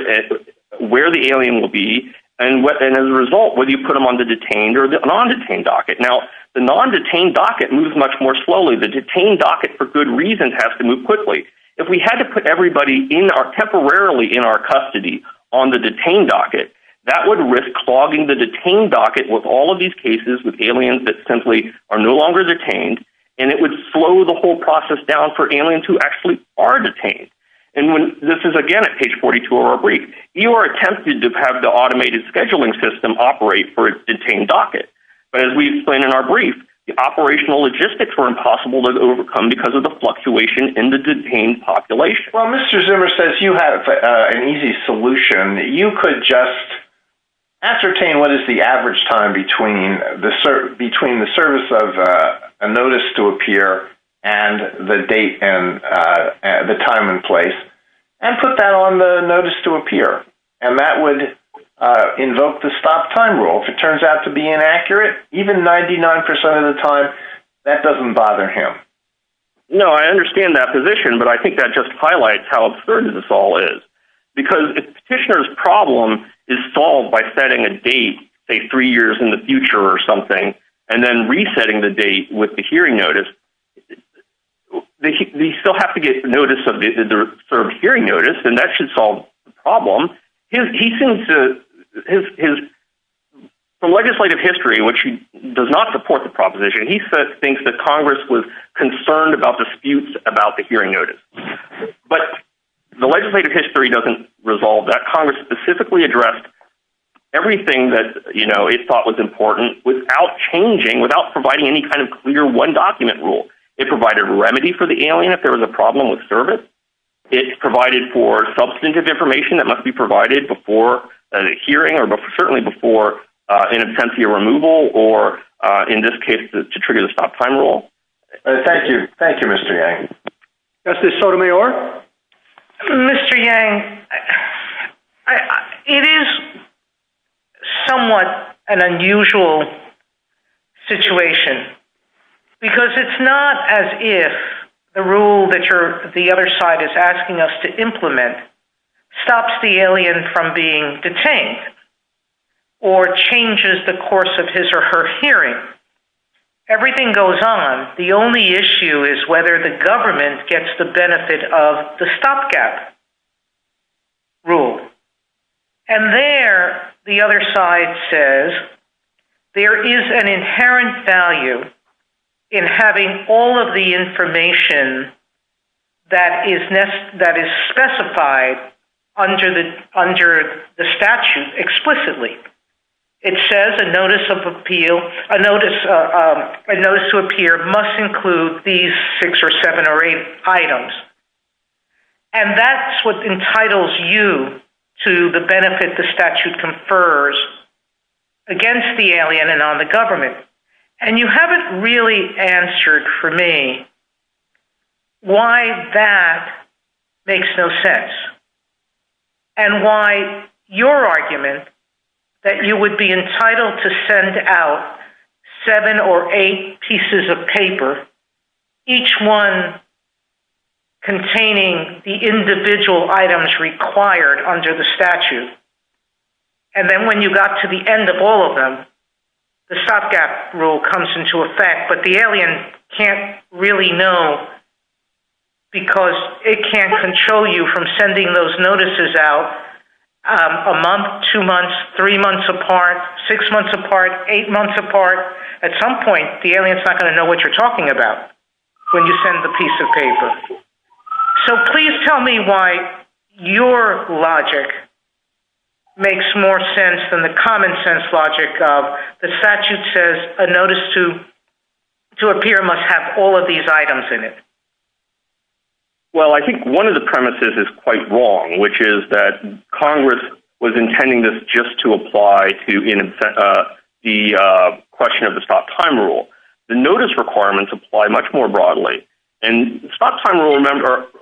where the alien will be, and as a result, whether you put them on the detained or the non-detained docket. Now, the non-detained docket moves much more slowly. The detained docket for good reason has to move quickly. If we had to put everybody in our, temporarily in our custody on the detained docket, that would risk clogging the detained docket with all of these cases with aliens that simply are no longer detained, and it would slow the whole process down for aliens who actually are detained, and when, this is again at page 42 of our brief, you are tempted to have the automated scheduling system operate for a detained docket, but as we explain in our brief, the operational logistics are impossible to overcome because of the fluctuation in the detained population. Well, Mr. Zimmer says you have an easy solution. You could just ascertain what is the average time between the service of a notice to appear and the date and the time and place, and put that on the notice to appear, and that would invoke the stop time rule. If it turns out to be inaccurate, even 99% of the time, that doesn't bother him. No, I understand that position, but I think that just highlights how absurd this all is, because if the petitioner's problem is solved by setting a date, say three years in the future or and then resetting the date with the hearing notice, they still have to get notice of the sort of hearing notice, and that should solve the problem. The legislative history, which does not support the proposition, he thinks that Congress was concerned about disputes about the hearing notice, but the legislative history doesn't resolve that. Congress specifically addressed everything that it thought was important without changing, without providing any kind of clear one-document rule. It provided remedy for the alien if there was a problem with service. It provided for substantive information that must be provided before a hearing or certainly before an attempt to your removal or, in this case, to trigger the stop time rule. Thank you. Thank you, Mr. Yang. Justice Sotomayor? Mr. Yang, it is somewhat an unusual situation, because it's not as if the rule that the other side is asking us to implement stops the alien from being detained or changes the course of his or her hearing. Everything goes on. The only issue is whether the government gets the benefit of the rule. And there, the other side says there is an inherent value in having all of the information that is specified under the statute explicitly. It says a notice of appeal, a notice to appear must include these six or seven or eight items. And that's what entitles you to the benefit the statute confers against the alien and on the government. And you haven't really answered for me why that makes no sense and why your argument that you would be entitled to send out seven or eight pieces of paper, each one containing the individual items required under the statute. And then when you got to the end of all of them, the stopgap rule comes into effect. But the alien can't really know, because it can't control you from sending those notices out a month, two months, three months apart, six months apart, eight months apart. At some point, the alien is not going to know what you're talking about when you send the piece of paper. So please tell me why your logic makes more sense than the common sense logic of the statute says a notice to appear must have all of these items in it. Well, I think one of the premises is quite wrong, which is that Congress was intending this just to apply to the question of the stop time rule. The notice requirements apply much more broadly. And stop time rule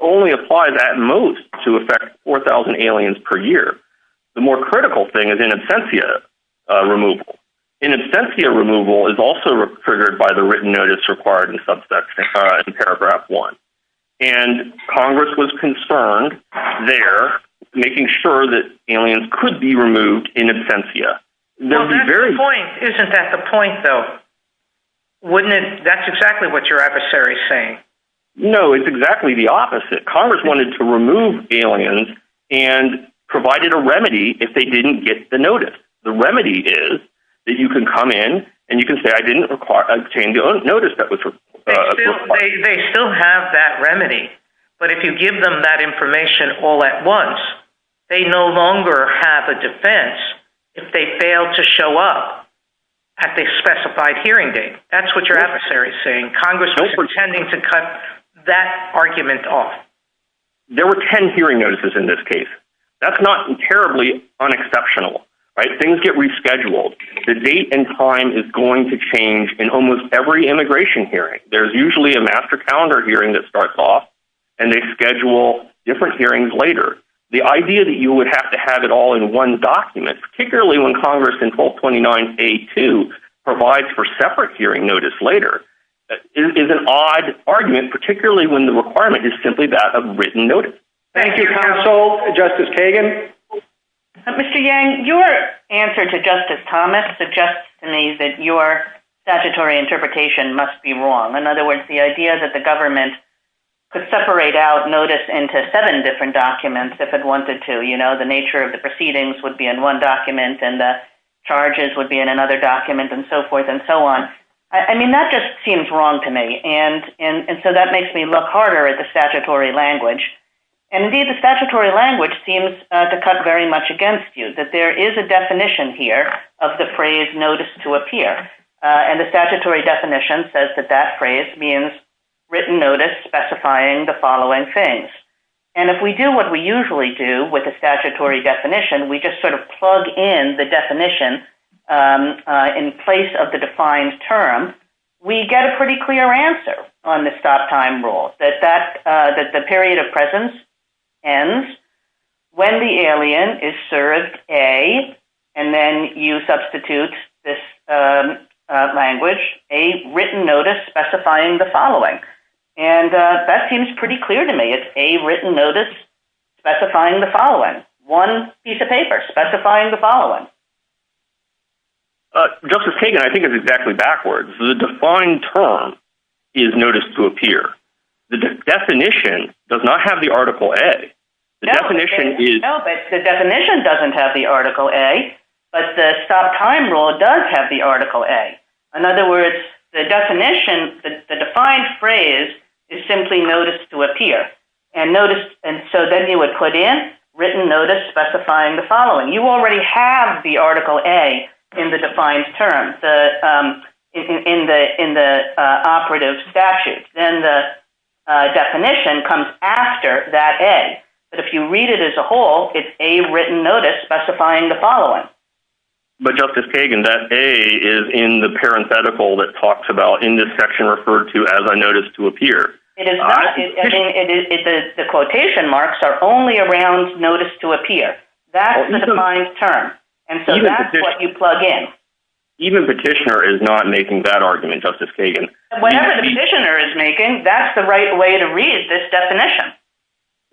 only applies at most to affect 4,000 aliens per year. The more critical thing is in absentia removal. In absentia removal is also triggered by the written notice required in paragraph one. And Congress was concerned there, making sure that aliens could be removed in absentia. Isn't that the point though? Wouldn't it? That's exactly what your adversary is saying. No, it's exactly the opposite. Congress wanted to remove aliens and provided a remedy if they didn't get the notice. The remedy is that you can come in and you can say, I didn't notice that. They still have that remedy. But if you give them that information all at once, they no longer have a defense if they fail to show up at the specified hearing date. That's what your adversary is saying. Congress was intending to cut that argument off. There were 10 hearing notices in this case. That's not terribly unexceptional, right? Things get rescheduled. The date and time is going to change in almost every immigration hearing. There's usually a master calendar hearing that starts off and they schedule different hearings later. The idea that you would have to have it all in one document, particularly when Congress in 1229A2 provides for separate hearing notice later is an odd argument, particularly when the requirement is simply that of written notice. Thank you, counsel. Justice Kagan? Mr. Yang, your answer to Justice Thomas suggests to me that your statutory interpretation must be wrong. In other words, the idea that the government could separate out notice into seven different documents if it wanted to. The nature of the proceedings would be in one document and the charges would be in another document and so forth and so on. That just seems wrong to me. That makes me look harder at the statutory language. Indeed, the statutory language seems to cut very much against you. There is a definition here of the phrase, notice to appear. The statutory definition says that that phrase means written notice specifying the following things. If we do what we usually do with the statutory definition, we just plug in the definition in place of the defined term, we get a pretty clear answer on the stop time rule, that the period of presence ends when the alien is served a, and then you substitute this language, a written notice specifying the following. That seems pretty clear to me. It's a written notice specifying the following. One piece of paper specifying the following. Justice Kagan, I think it's exactly backwards. The defined term is notice to appear. The definition does not have the article A. The definition doesn't have the article A, but the stop time rule does have the article A. In other words, the definition, the defined phrase is simply notice to appear. Then you would plug in written notice specifying the following. You already have the article A in the defined term, in the operative statute. Then the definition comes after that A. If you read it as a whole, it's a written notice specifying the following. Justice Kagan, that A is in the defined term. The quotation marks are only around notice to appear. That's the defined term. That's what you plug in. Even Petitioner is not making that argument, Justice Kagan. Whenever Petitioner is making, that's the right way to read this definition.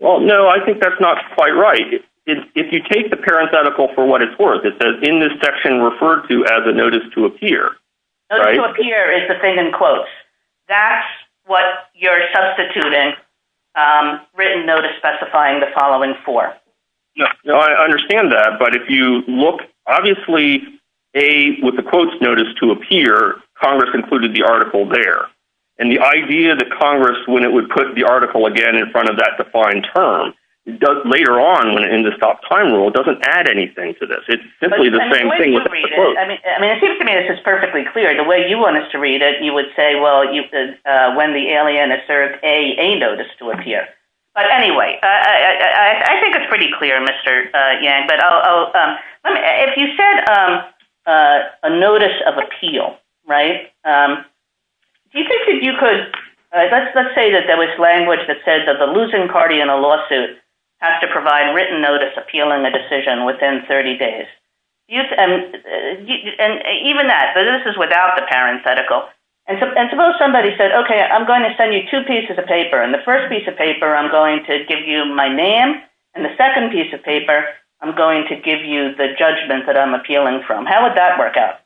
No, I think that's not quite right. If you take the parent's article for what it's worth, it says in this section referred to as a notice to appear. Notice to appear is the thing in quotes. That's what you're substituting written notice specifying the following for. I understand that, but if you look, obviously, A, with the quotes notice to appear, Congress included the article there. The idea that Congress, when it would put the article again in front of that defined term, later on in the stop time rule, it doesn't add anything to this. It's simply the same thing with the quotes. It seems to me this is perfectly clear. The way you wanted to read it, you would say, when the alien asserts A, A notice to appear. Anyway, I think it's pretty clear, Mr. Yang. If you said a notice of appeal, let's say that there was language that said that the losing party in a lawsuit has to provide written notice appealing a decision within 30 days. And even that, but this is without the parent's article. Suppose somebody said, okay, I'm going to send you two pieces of paper. In the first piece of paper, I'm going to give you my name. In the second piece of paper, I'm going to give you the judgment that I'm appealing from. How would that work out?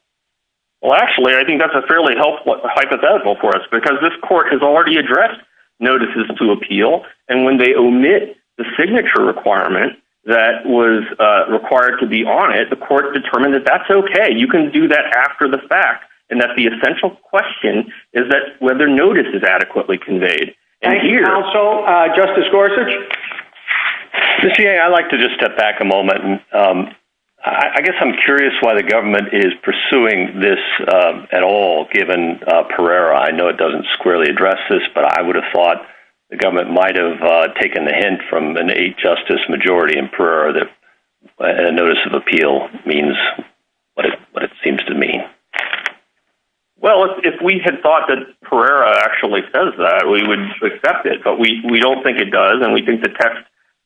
Well, actually, I think that's a fairly helpful hypothetical for us because this court has already addressed notices to appeal. When they omit the signature requirement that was required to be on it, the court determined that that's okay. You can do that after the fact. And that's the essential question is that whether notice is adequately conveyed. Thank you, counsel. Justice Gorsuch? Mr. Yang, I'd like to just step back a moment. I guess I'm curious why the government is pursuing this at all given Pereira. I know it doesn't squarely address this, but I would have thought the government might've taken the hint from an eight justice majority in Pereira that notice of appeal means what it seems to mean. Well, if we had thought that Pereira actually says that, we would accept it, but we don't think it does. And we think the text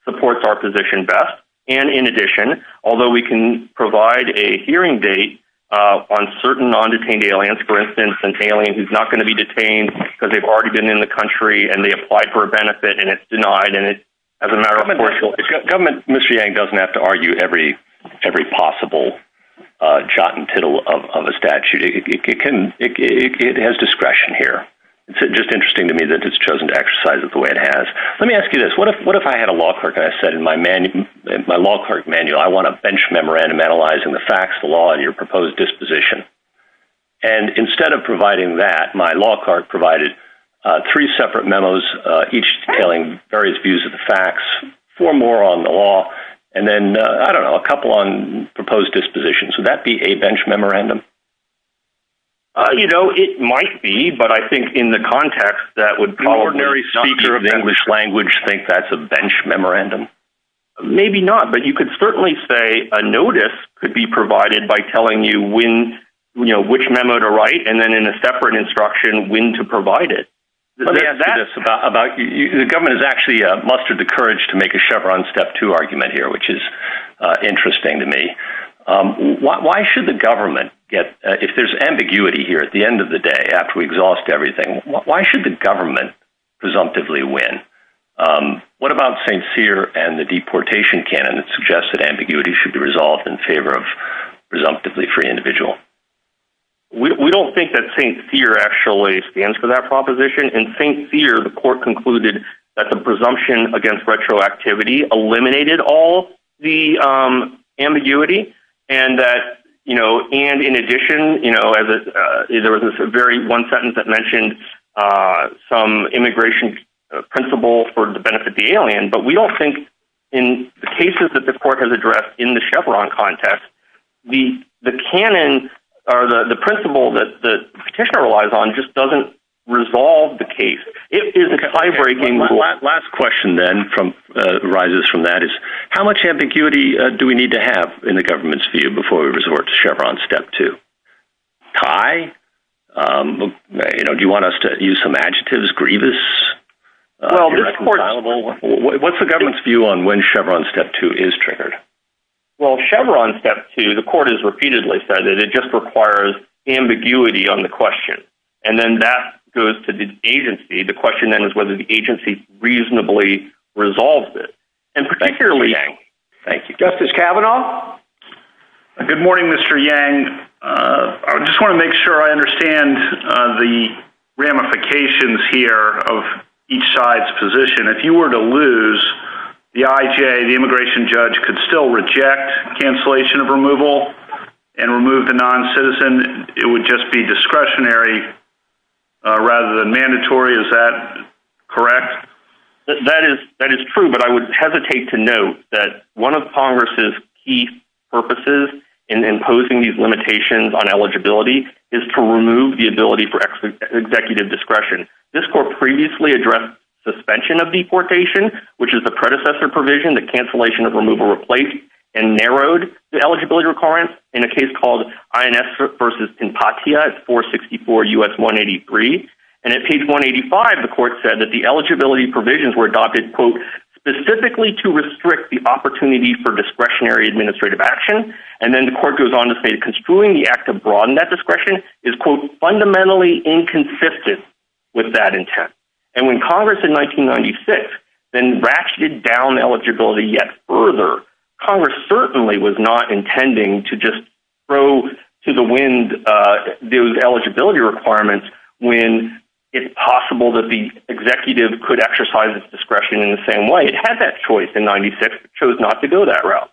supports our position best. And in addition, although we can provide a hearing date on certain non-detained aliens, for instance, an alien who's not going to be detained because they've already been in the country and they applied for a benefit and it's denied. And as a matter of course, government, Mr. Yang doesn't have to argue every possible jot and tittle of a statute. It has discretion here. It's just interesting to me that it's chosen to exercise it the way it has. Let me ask you this. What if I had a law clerk and I said in my law clerk manual, I want a bench memorandum analyzing the facts of the law and your proposed disposition. And instead of providing that, my law clerk provided three separate memos, each telling various views of the facts, four more on the law, and then, I don't know, a couple on proposed disposition. So that'd be a bench memorandum. You know, it might be, but I think in the context that would be ordinary speaker of English language, think that's a bench memorandum. Maybe not, but you could certainly say a notice could be provided by telling you when, you know, which memo to write. And then in a separate instruction, when to provide it. The government has actually mustered the courage to make a Chevron step two argument here, which is interesting to me. Why should the government get, if there's ambiguity here at the end of the day, after we exhaust everything, why should the government presumptively win? What about St. Thier and the deportation canon that suggests that ambiguity should be resolved in favor of presumptively free individual? We don't think that St. Thier actually stands for that proposition. In St. Thier, the court concluded that the presumption against retroactivity eliminated all the ambiguity, and that, you know, and in addition, you know, there was a very one sentence that mentioned some immigration principle for the benefit of the alien, but we don't think in the cases that the court has addressed in the Chevron context, the canon or the principle that the petitioner relies on just doesn't resolve the case. It is eye-breaking. The last question then arises from that is, how much ambiguity do we need to have in the government's view before we resort to Chevron step two? Kai, you know, do you want us to use some adjectives? Grievous? Well, what's the government's view on when Chevron step two is triggered? Well, Chevron step two, the court has repeatedly said that it just requires ambiguity on the question. And then that goes to the agency. The question then is whether the agency reasonably resolved it. And particularly... Thank you. Justice Kavanaugh? Good morning, Mr. Yang. I just want to make sure I understand the ramifications here of each side's position. If you were to lose, the IJ, the immigration judge, could still reject cancellation of removal and remove the non-citizen. It would just be discretionary rather than mandatory. Is that correct? That is true, but I would hesitate to note that one of Congress's key purposes in imposing these limitations on eligibility is to remove the ability for executive discretion. This court previously addressed suspension of deportation, which is the predecessor provision that cancellation of removal replaced and narrowed the eligibility requirements in a case called INS versus Empatia at 464 U.S. 183. And at page 185, the court said that the eligibility provisions were adopted, quote, specifically to restrict the opportunity for discretionary administrative action. And then the court goes on to say that the act of broadening that discretion is, quote, fundamentally inconsistent with that intent. And when Congress in 1996 then ratcheted down eligibility yet further, Congress certainly was not intending to just throw to the wind those eligibility requirements when it's possible that the executive could exercise its discretion in the same way. It had that choice in 96, chose not to do that route.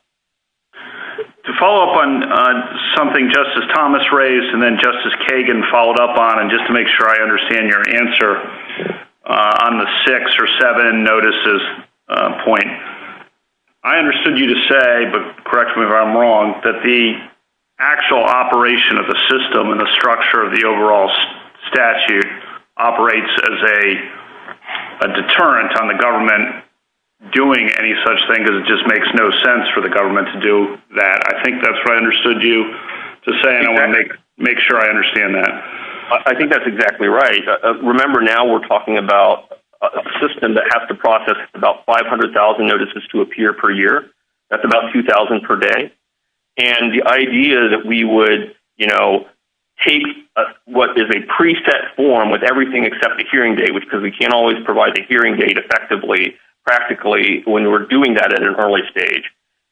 To follow up on something Justice Thomas raised and then Justice Kagan followed up on, and just to make sure I understand your answer on the six or seven notices point, I understood you to say, but correct me if I'm wrong, that the actual operation of the system and the structure of the overall statute operates as a deterrent on the government doing any such thing because it just makes no sense for the government to do that. I think that's what I understood you to say, and I want to make sure I understand that. I think that's exactly right. Remember now we're talking about a system that has to process about 500,000 notices to appear per year. That's about 2,000 per day. And the idea that we would, you know, take what is a preset form with everything except the hearing date, which because we can't always provide the hearing date effectively, practically when we're doing that at an early stage,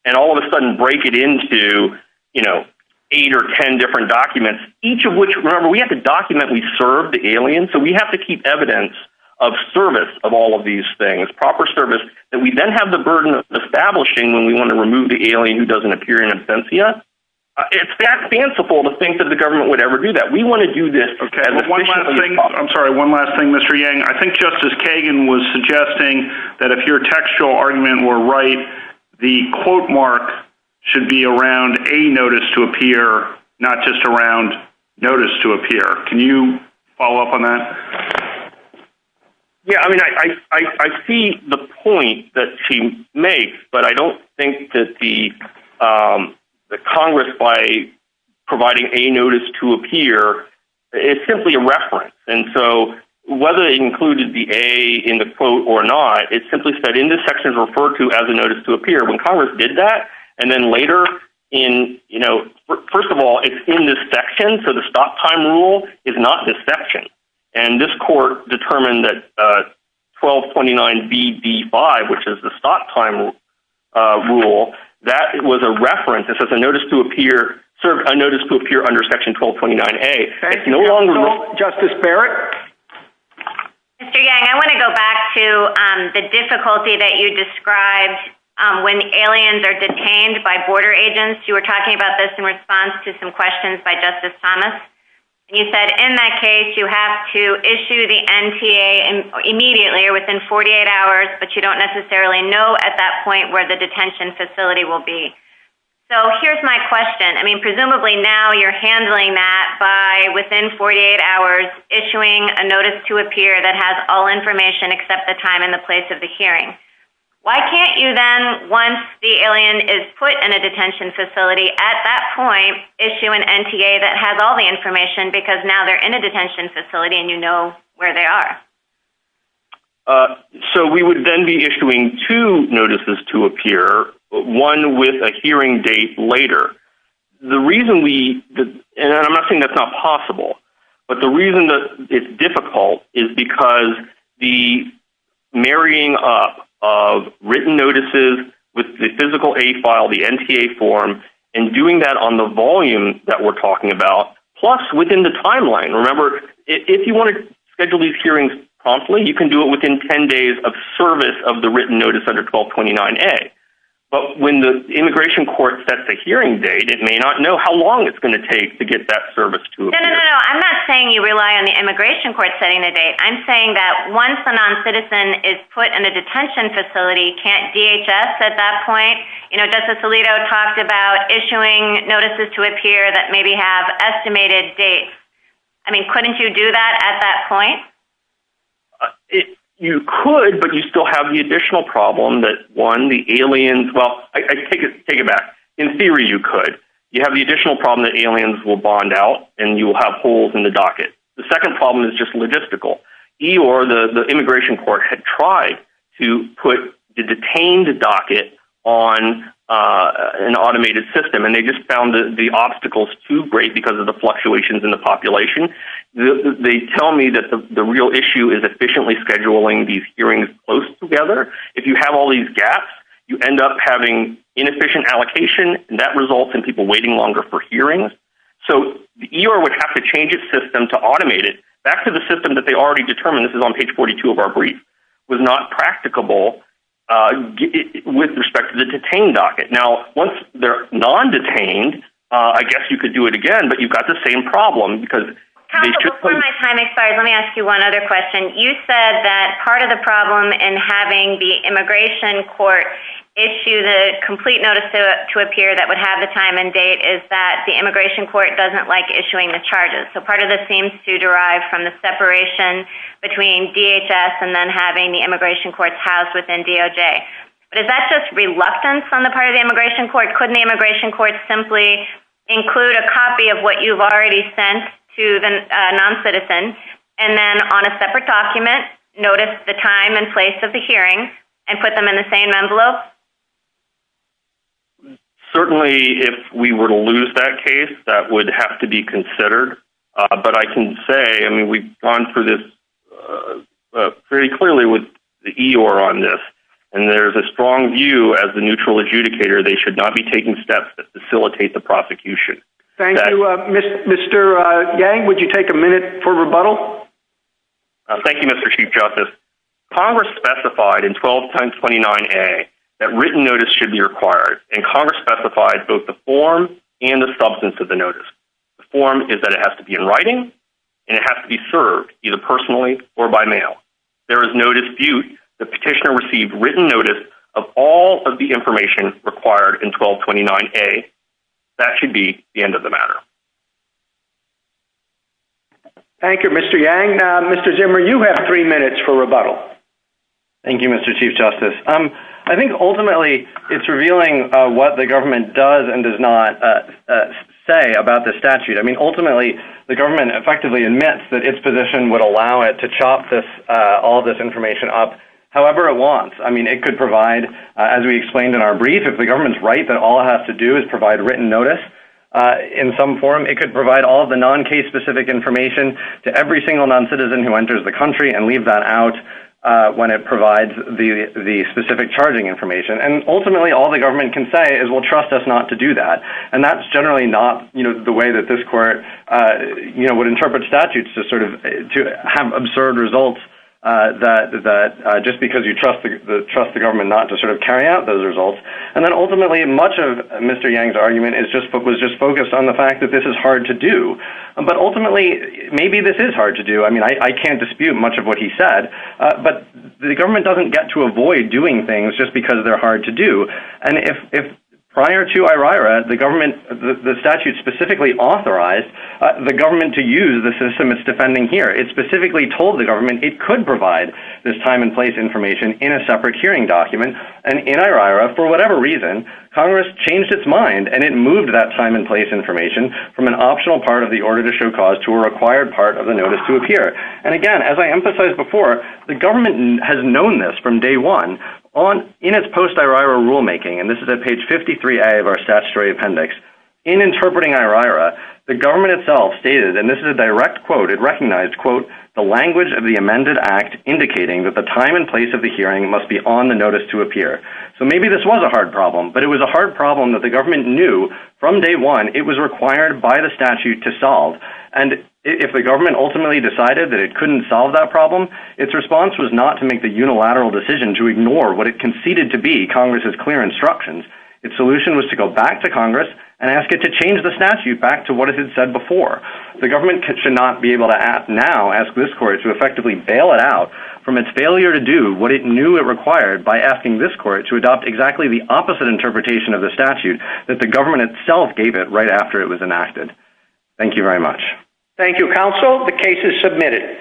and all of a sudden break it into, you know, eight or 10 different documents, each of which, remember, we have to document we serve the alien. So we have to keep evidence of service of all of these things, proper service, that we then have the burden of establishing when we want to remove the alien who doesn't appear in offense yet. It's that fanciful to think that the government would ever do that. We want to do this. One last thing. I'm sorry. One last thing, Mr. Yang. I think Justice Kagan was suggesting that if your textual argument were right, the quote mark should be around a notice to appear, not just around notice to appear. Can you follow up on that? Yeah. I mean, I see the point that she makes, but I don't think that the Congress by simply a reference. And so whether they included the A in the quote or not, it's simply said in this section is referred to as a notice to appear when Congress did that. And then later in, you know, first of all, it's in this section. So the stop time rule is not this section. And this court determined that 1229BB5, which is the stop time rule, that it was a reference. It says a notice to appear under section 1229A. Justice Barrett? Mr. Yang, I want to go back to the difficulty that you described when the aliens are detained by border agents. You were talking about this in response to some questions by Justice Thomas. And you said in that case, you have to issue the NTA immediately or within 48 hours, but you don't necessarily know at that point where the detention facility will be. So here's my question. I mean, presumably now you're handling that by within 48 hours issuing a notice to appear that has all information except the time and the place of the hearing. Why can't you then, once the alien is put in a detention facility, at that point issue an NTA that has all the information because now they're in a detention facility and you know where they are? So we would then be issuing two notices to appear, but one with a hearing date later. The reason we, and I'm not saying that's not possible, but the reason that it's difficult is because the marrying up of written notices with the physical A file, the NTA form, and doing that on the volume that we're talking about, plus within the timeline. Remember, if you want to schedule these hearings promptly, you can do it within 10 days of service of the written notice under 1229A. But when the immigration court sets the hearing date, it may not know how long it's going to take to get that service to appear. No, no, no. I'm not saying you rely on the immigration court setting the date. I'm saying that once a non-citizen is put in a detention facility, you can't DHS at that point. You know, Justice Alito talked about issuing notices to appear that maybe have estimated dates. I mean, couldn't you do that at that point? You could, but you still have the additional problem that one, the aliens, well, I take it back. In theory, you could. You have the additional problem that aliens will bond out and you will have holes in the docket. The immigration court had tried to put the detained docket on an automated system, and they just found the obstacles too great because of the fluctuations in the population. They tell me that the real issue is efficiently scheduling these hearings close together. If you have all these gaps, you end up having inefficient allocation, and that results in people waiting longer for hearings. So the ER would have to change its system to automate it. Back to the system that they already determined. This is on page 42 of our brief. It was not practicable with respect to the detained docket. Now, once they're non-detained, I guess you could do it again, but you've got the same problem. Let me ask you one other question. You said that part of the problem in having the immigration court issue the complete notice to appear that would have the time and date is that the immigration court doesn't like issuing the charges. So part of this seems to derive from the separation between DHS and then having the immigration courts housed within DOJ. But is that just reluctance on the part of the immigration court? Couldn't the immigration court simply include a copy of what you've already sent to the non-citizen and then on a separate document notice the time and place of the hearing and put them in the same envelope? Certainly, if we were to lose that case, that would have to be considered. But I can say, I mean, we've gone through this very clearly with the EOIR on this, and there's a strong view as the neutral adjudicator, they should not be taking steps to facilitate the prosecution. Thank you. Mr. Yang, would you take a minute for rebuttal? Thank you, Mr. Chief Justice. Congress specified in 12 times 29A that written notice should be required. And Congress specified both the form and the substance of the notice. The form is that it has to be in writing and it has to be served either personally or by mail. There is no dispute the petitioner received written notice of all of the information required in 1229A. That should be the end of the matter. Thank you, Mr. Yang. Mr. Zimmer, you have three minutes for rebuttal. Thank you, Mr. Chief Justice. I think ultimately it's revealing what the government does and does not say about the statute. I mean, ultimately, the government effectively admits that its position would allow it to chop all this information up however it wants. I mean, it could provide, as we explained in our brief, if the government's right that all it has to do is provide written notice in some form, it could provide all of the non-case specific information to every single non-citizen who enters the country and leave that out when it provides the specific charging information. And ultimately, all the government can say is, well, trust us not to do that. And that's generally not the way that this court would interpret statutes to have absurd results just because you trust the government not to carry out those results. And then ultimately, much of Mr. Yang's argument was just focused on the fact that this is hard to do. But ultimately, maybe this is hard to do. I mean, I can't dispute much of what he said, but the government doesn't get to avoid doing things just because they're hard to do. And if prior to IRIRA, the government, the statute specifically authorized the government to use the system it's defending here, it specifically told the government it could provide this time and place information in a separate hearing document. And in IRIRA, for whatever reason, Congress changed its mind and it moved that time and place information from an optional part of the order to show cause to a required part of the notice to appear. And again, as I emphasized before, the government has known this from day one in its post-IRIRA rulemaking. And this is at page 53A of our statutory appendix. In interpreting IRIRA, the government itself stated, and this is a direct quote, it recognized, quote, the language of the amended act indicating that the time and place of the hearing must be on the notice to appear. So maybe this was a hard problem, but it was a hard problem that the government knew from day one it was required by the statute to solve. And if the government ultimately decided that it couldn't solve that problem, its response was not to make the unilateral decision to ignore what it conceded to be Congress's clear instructions. Its solution was to go back to Congress and ask it to change the statute back to what it had said before. The government should not be able to ask now, ask this court to effectively bail it out from its failure to do what it knew it required by asking this court to adopt exactly the opposite interpretation of the statute that the government itself gave it right after it was enacted. Thank you very much. Thank you, counsel. The case is submitted.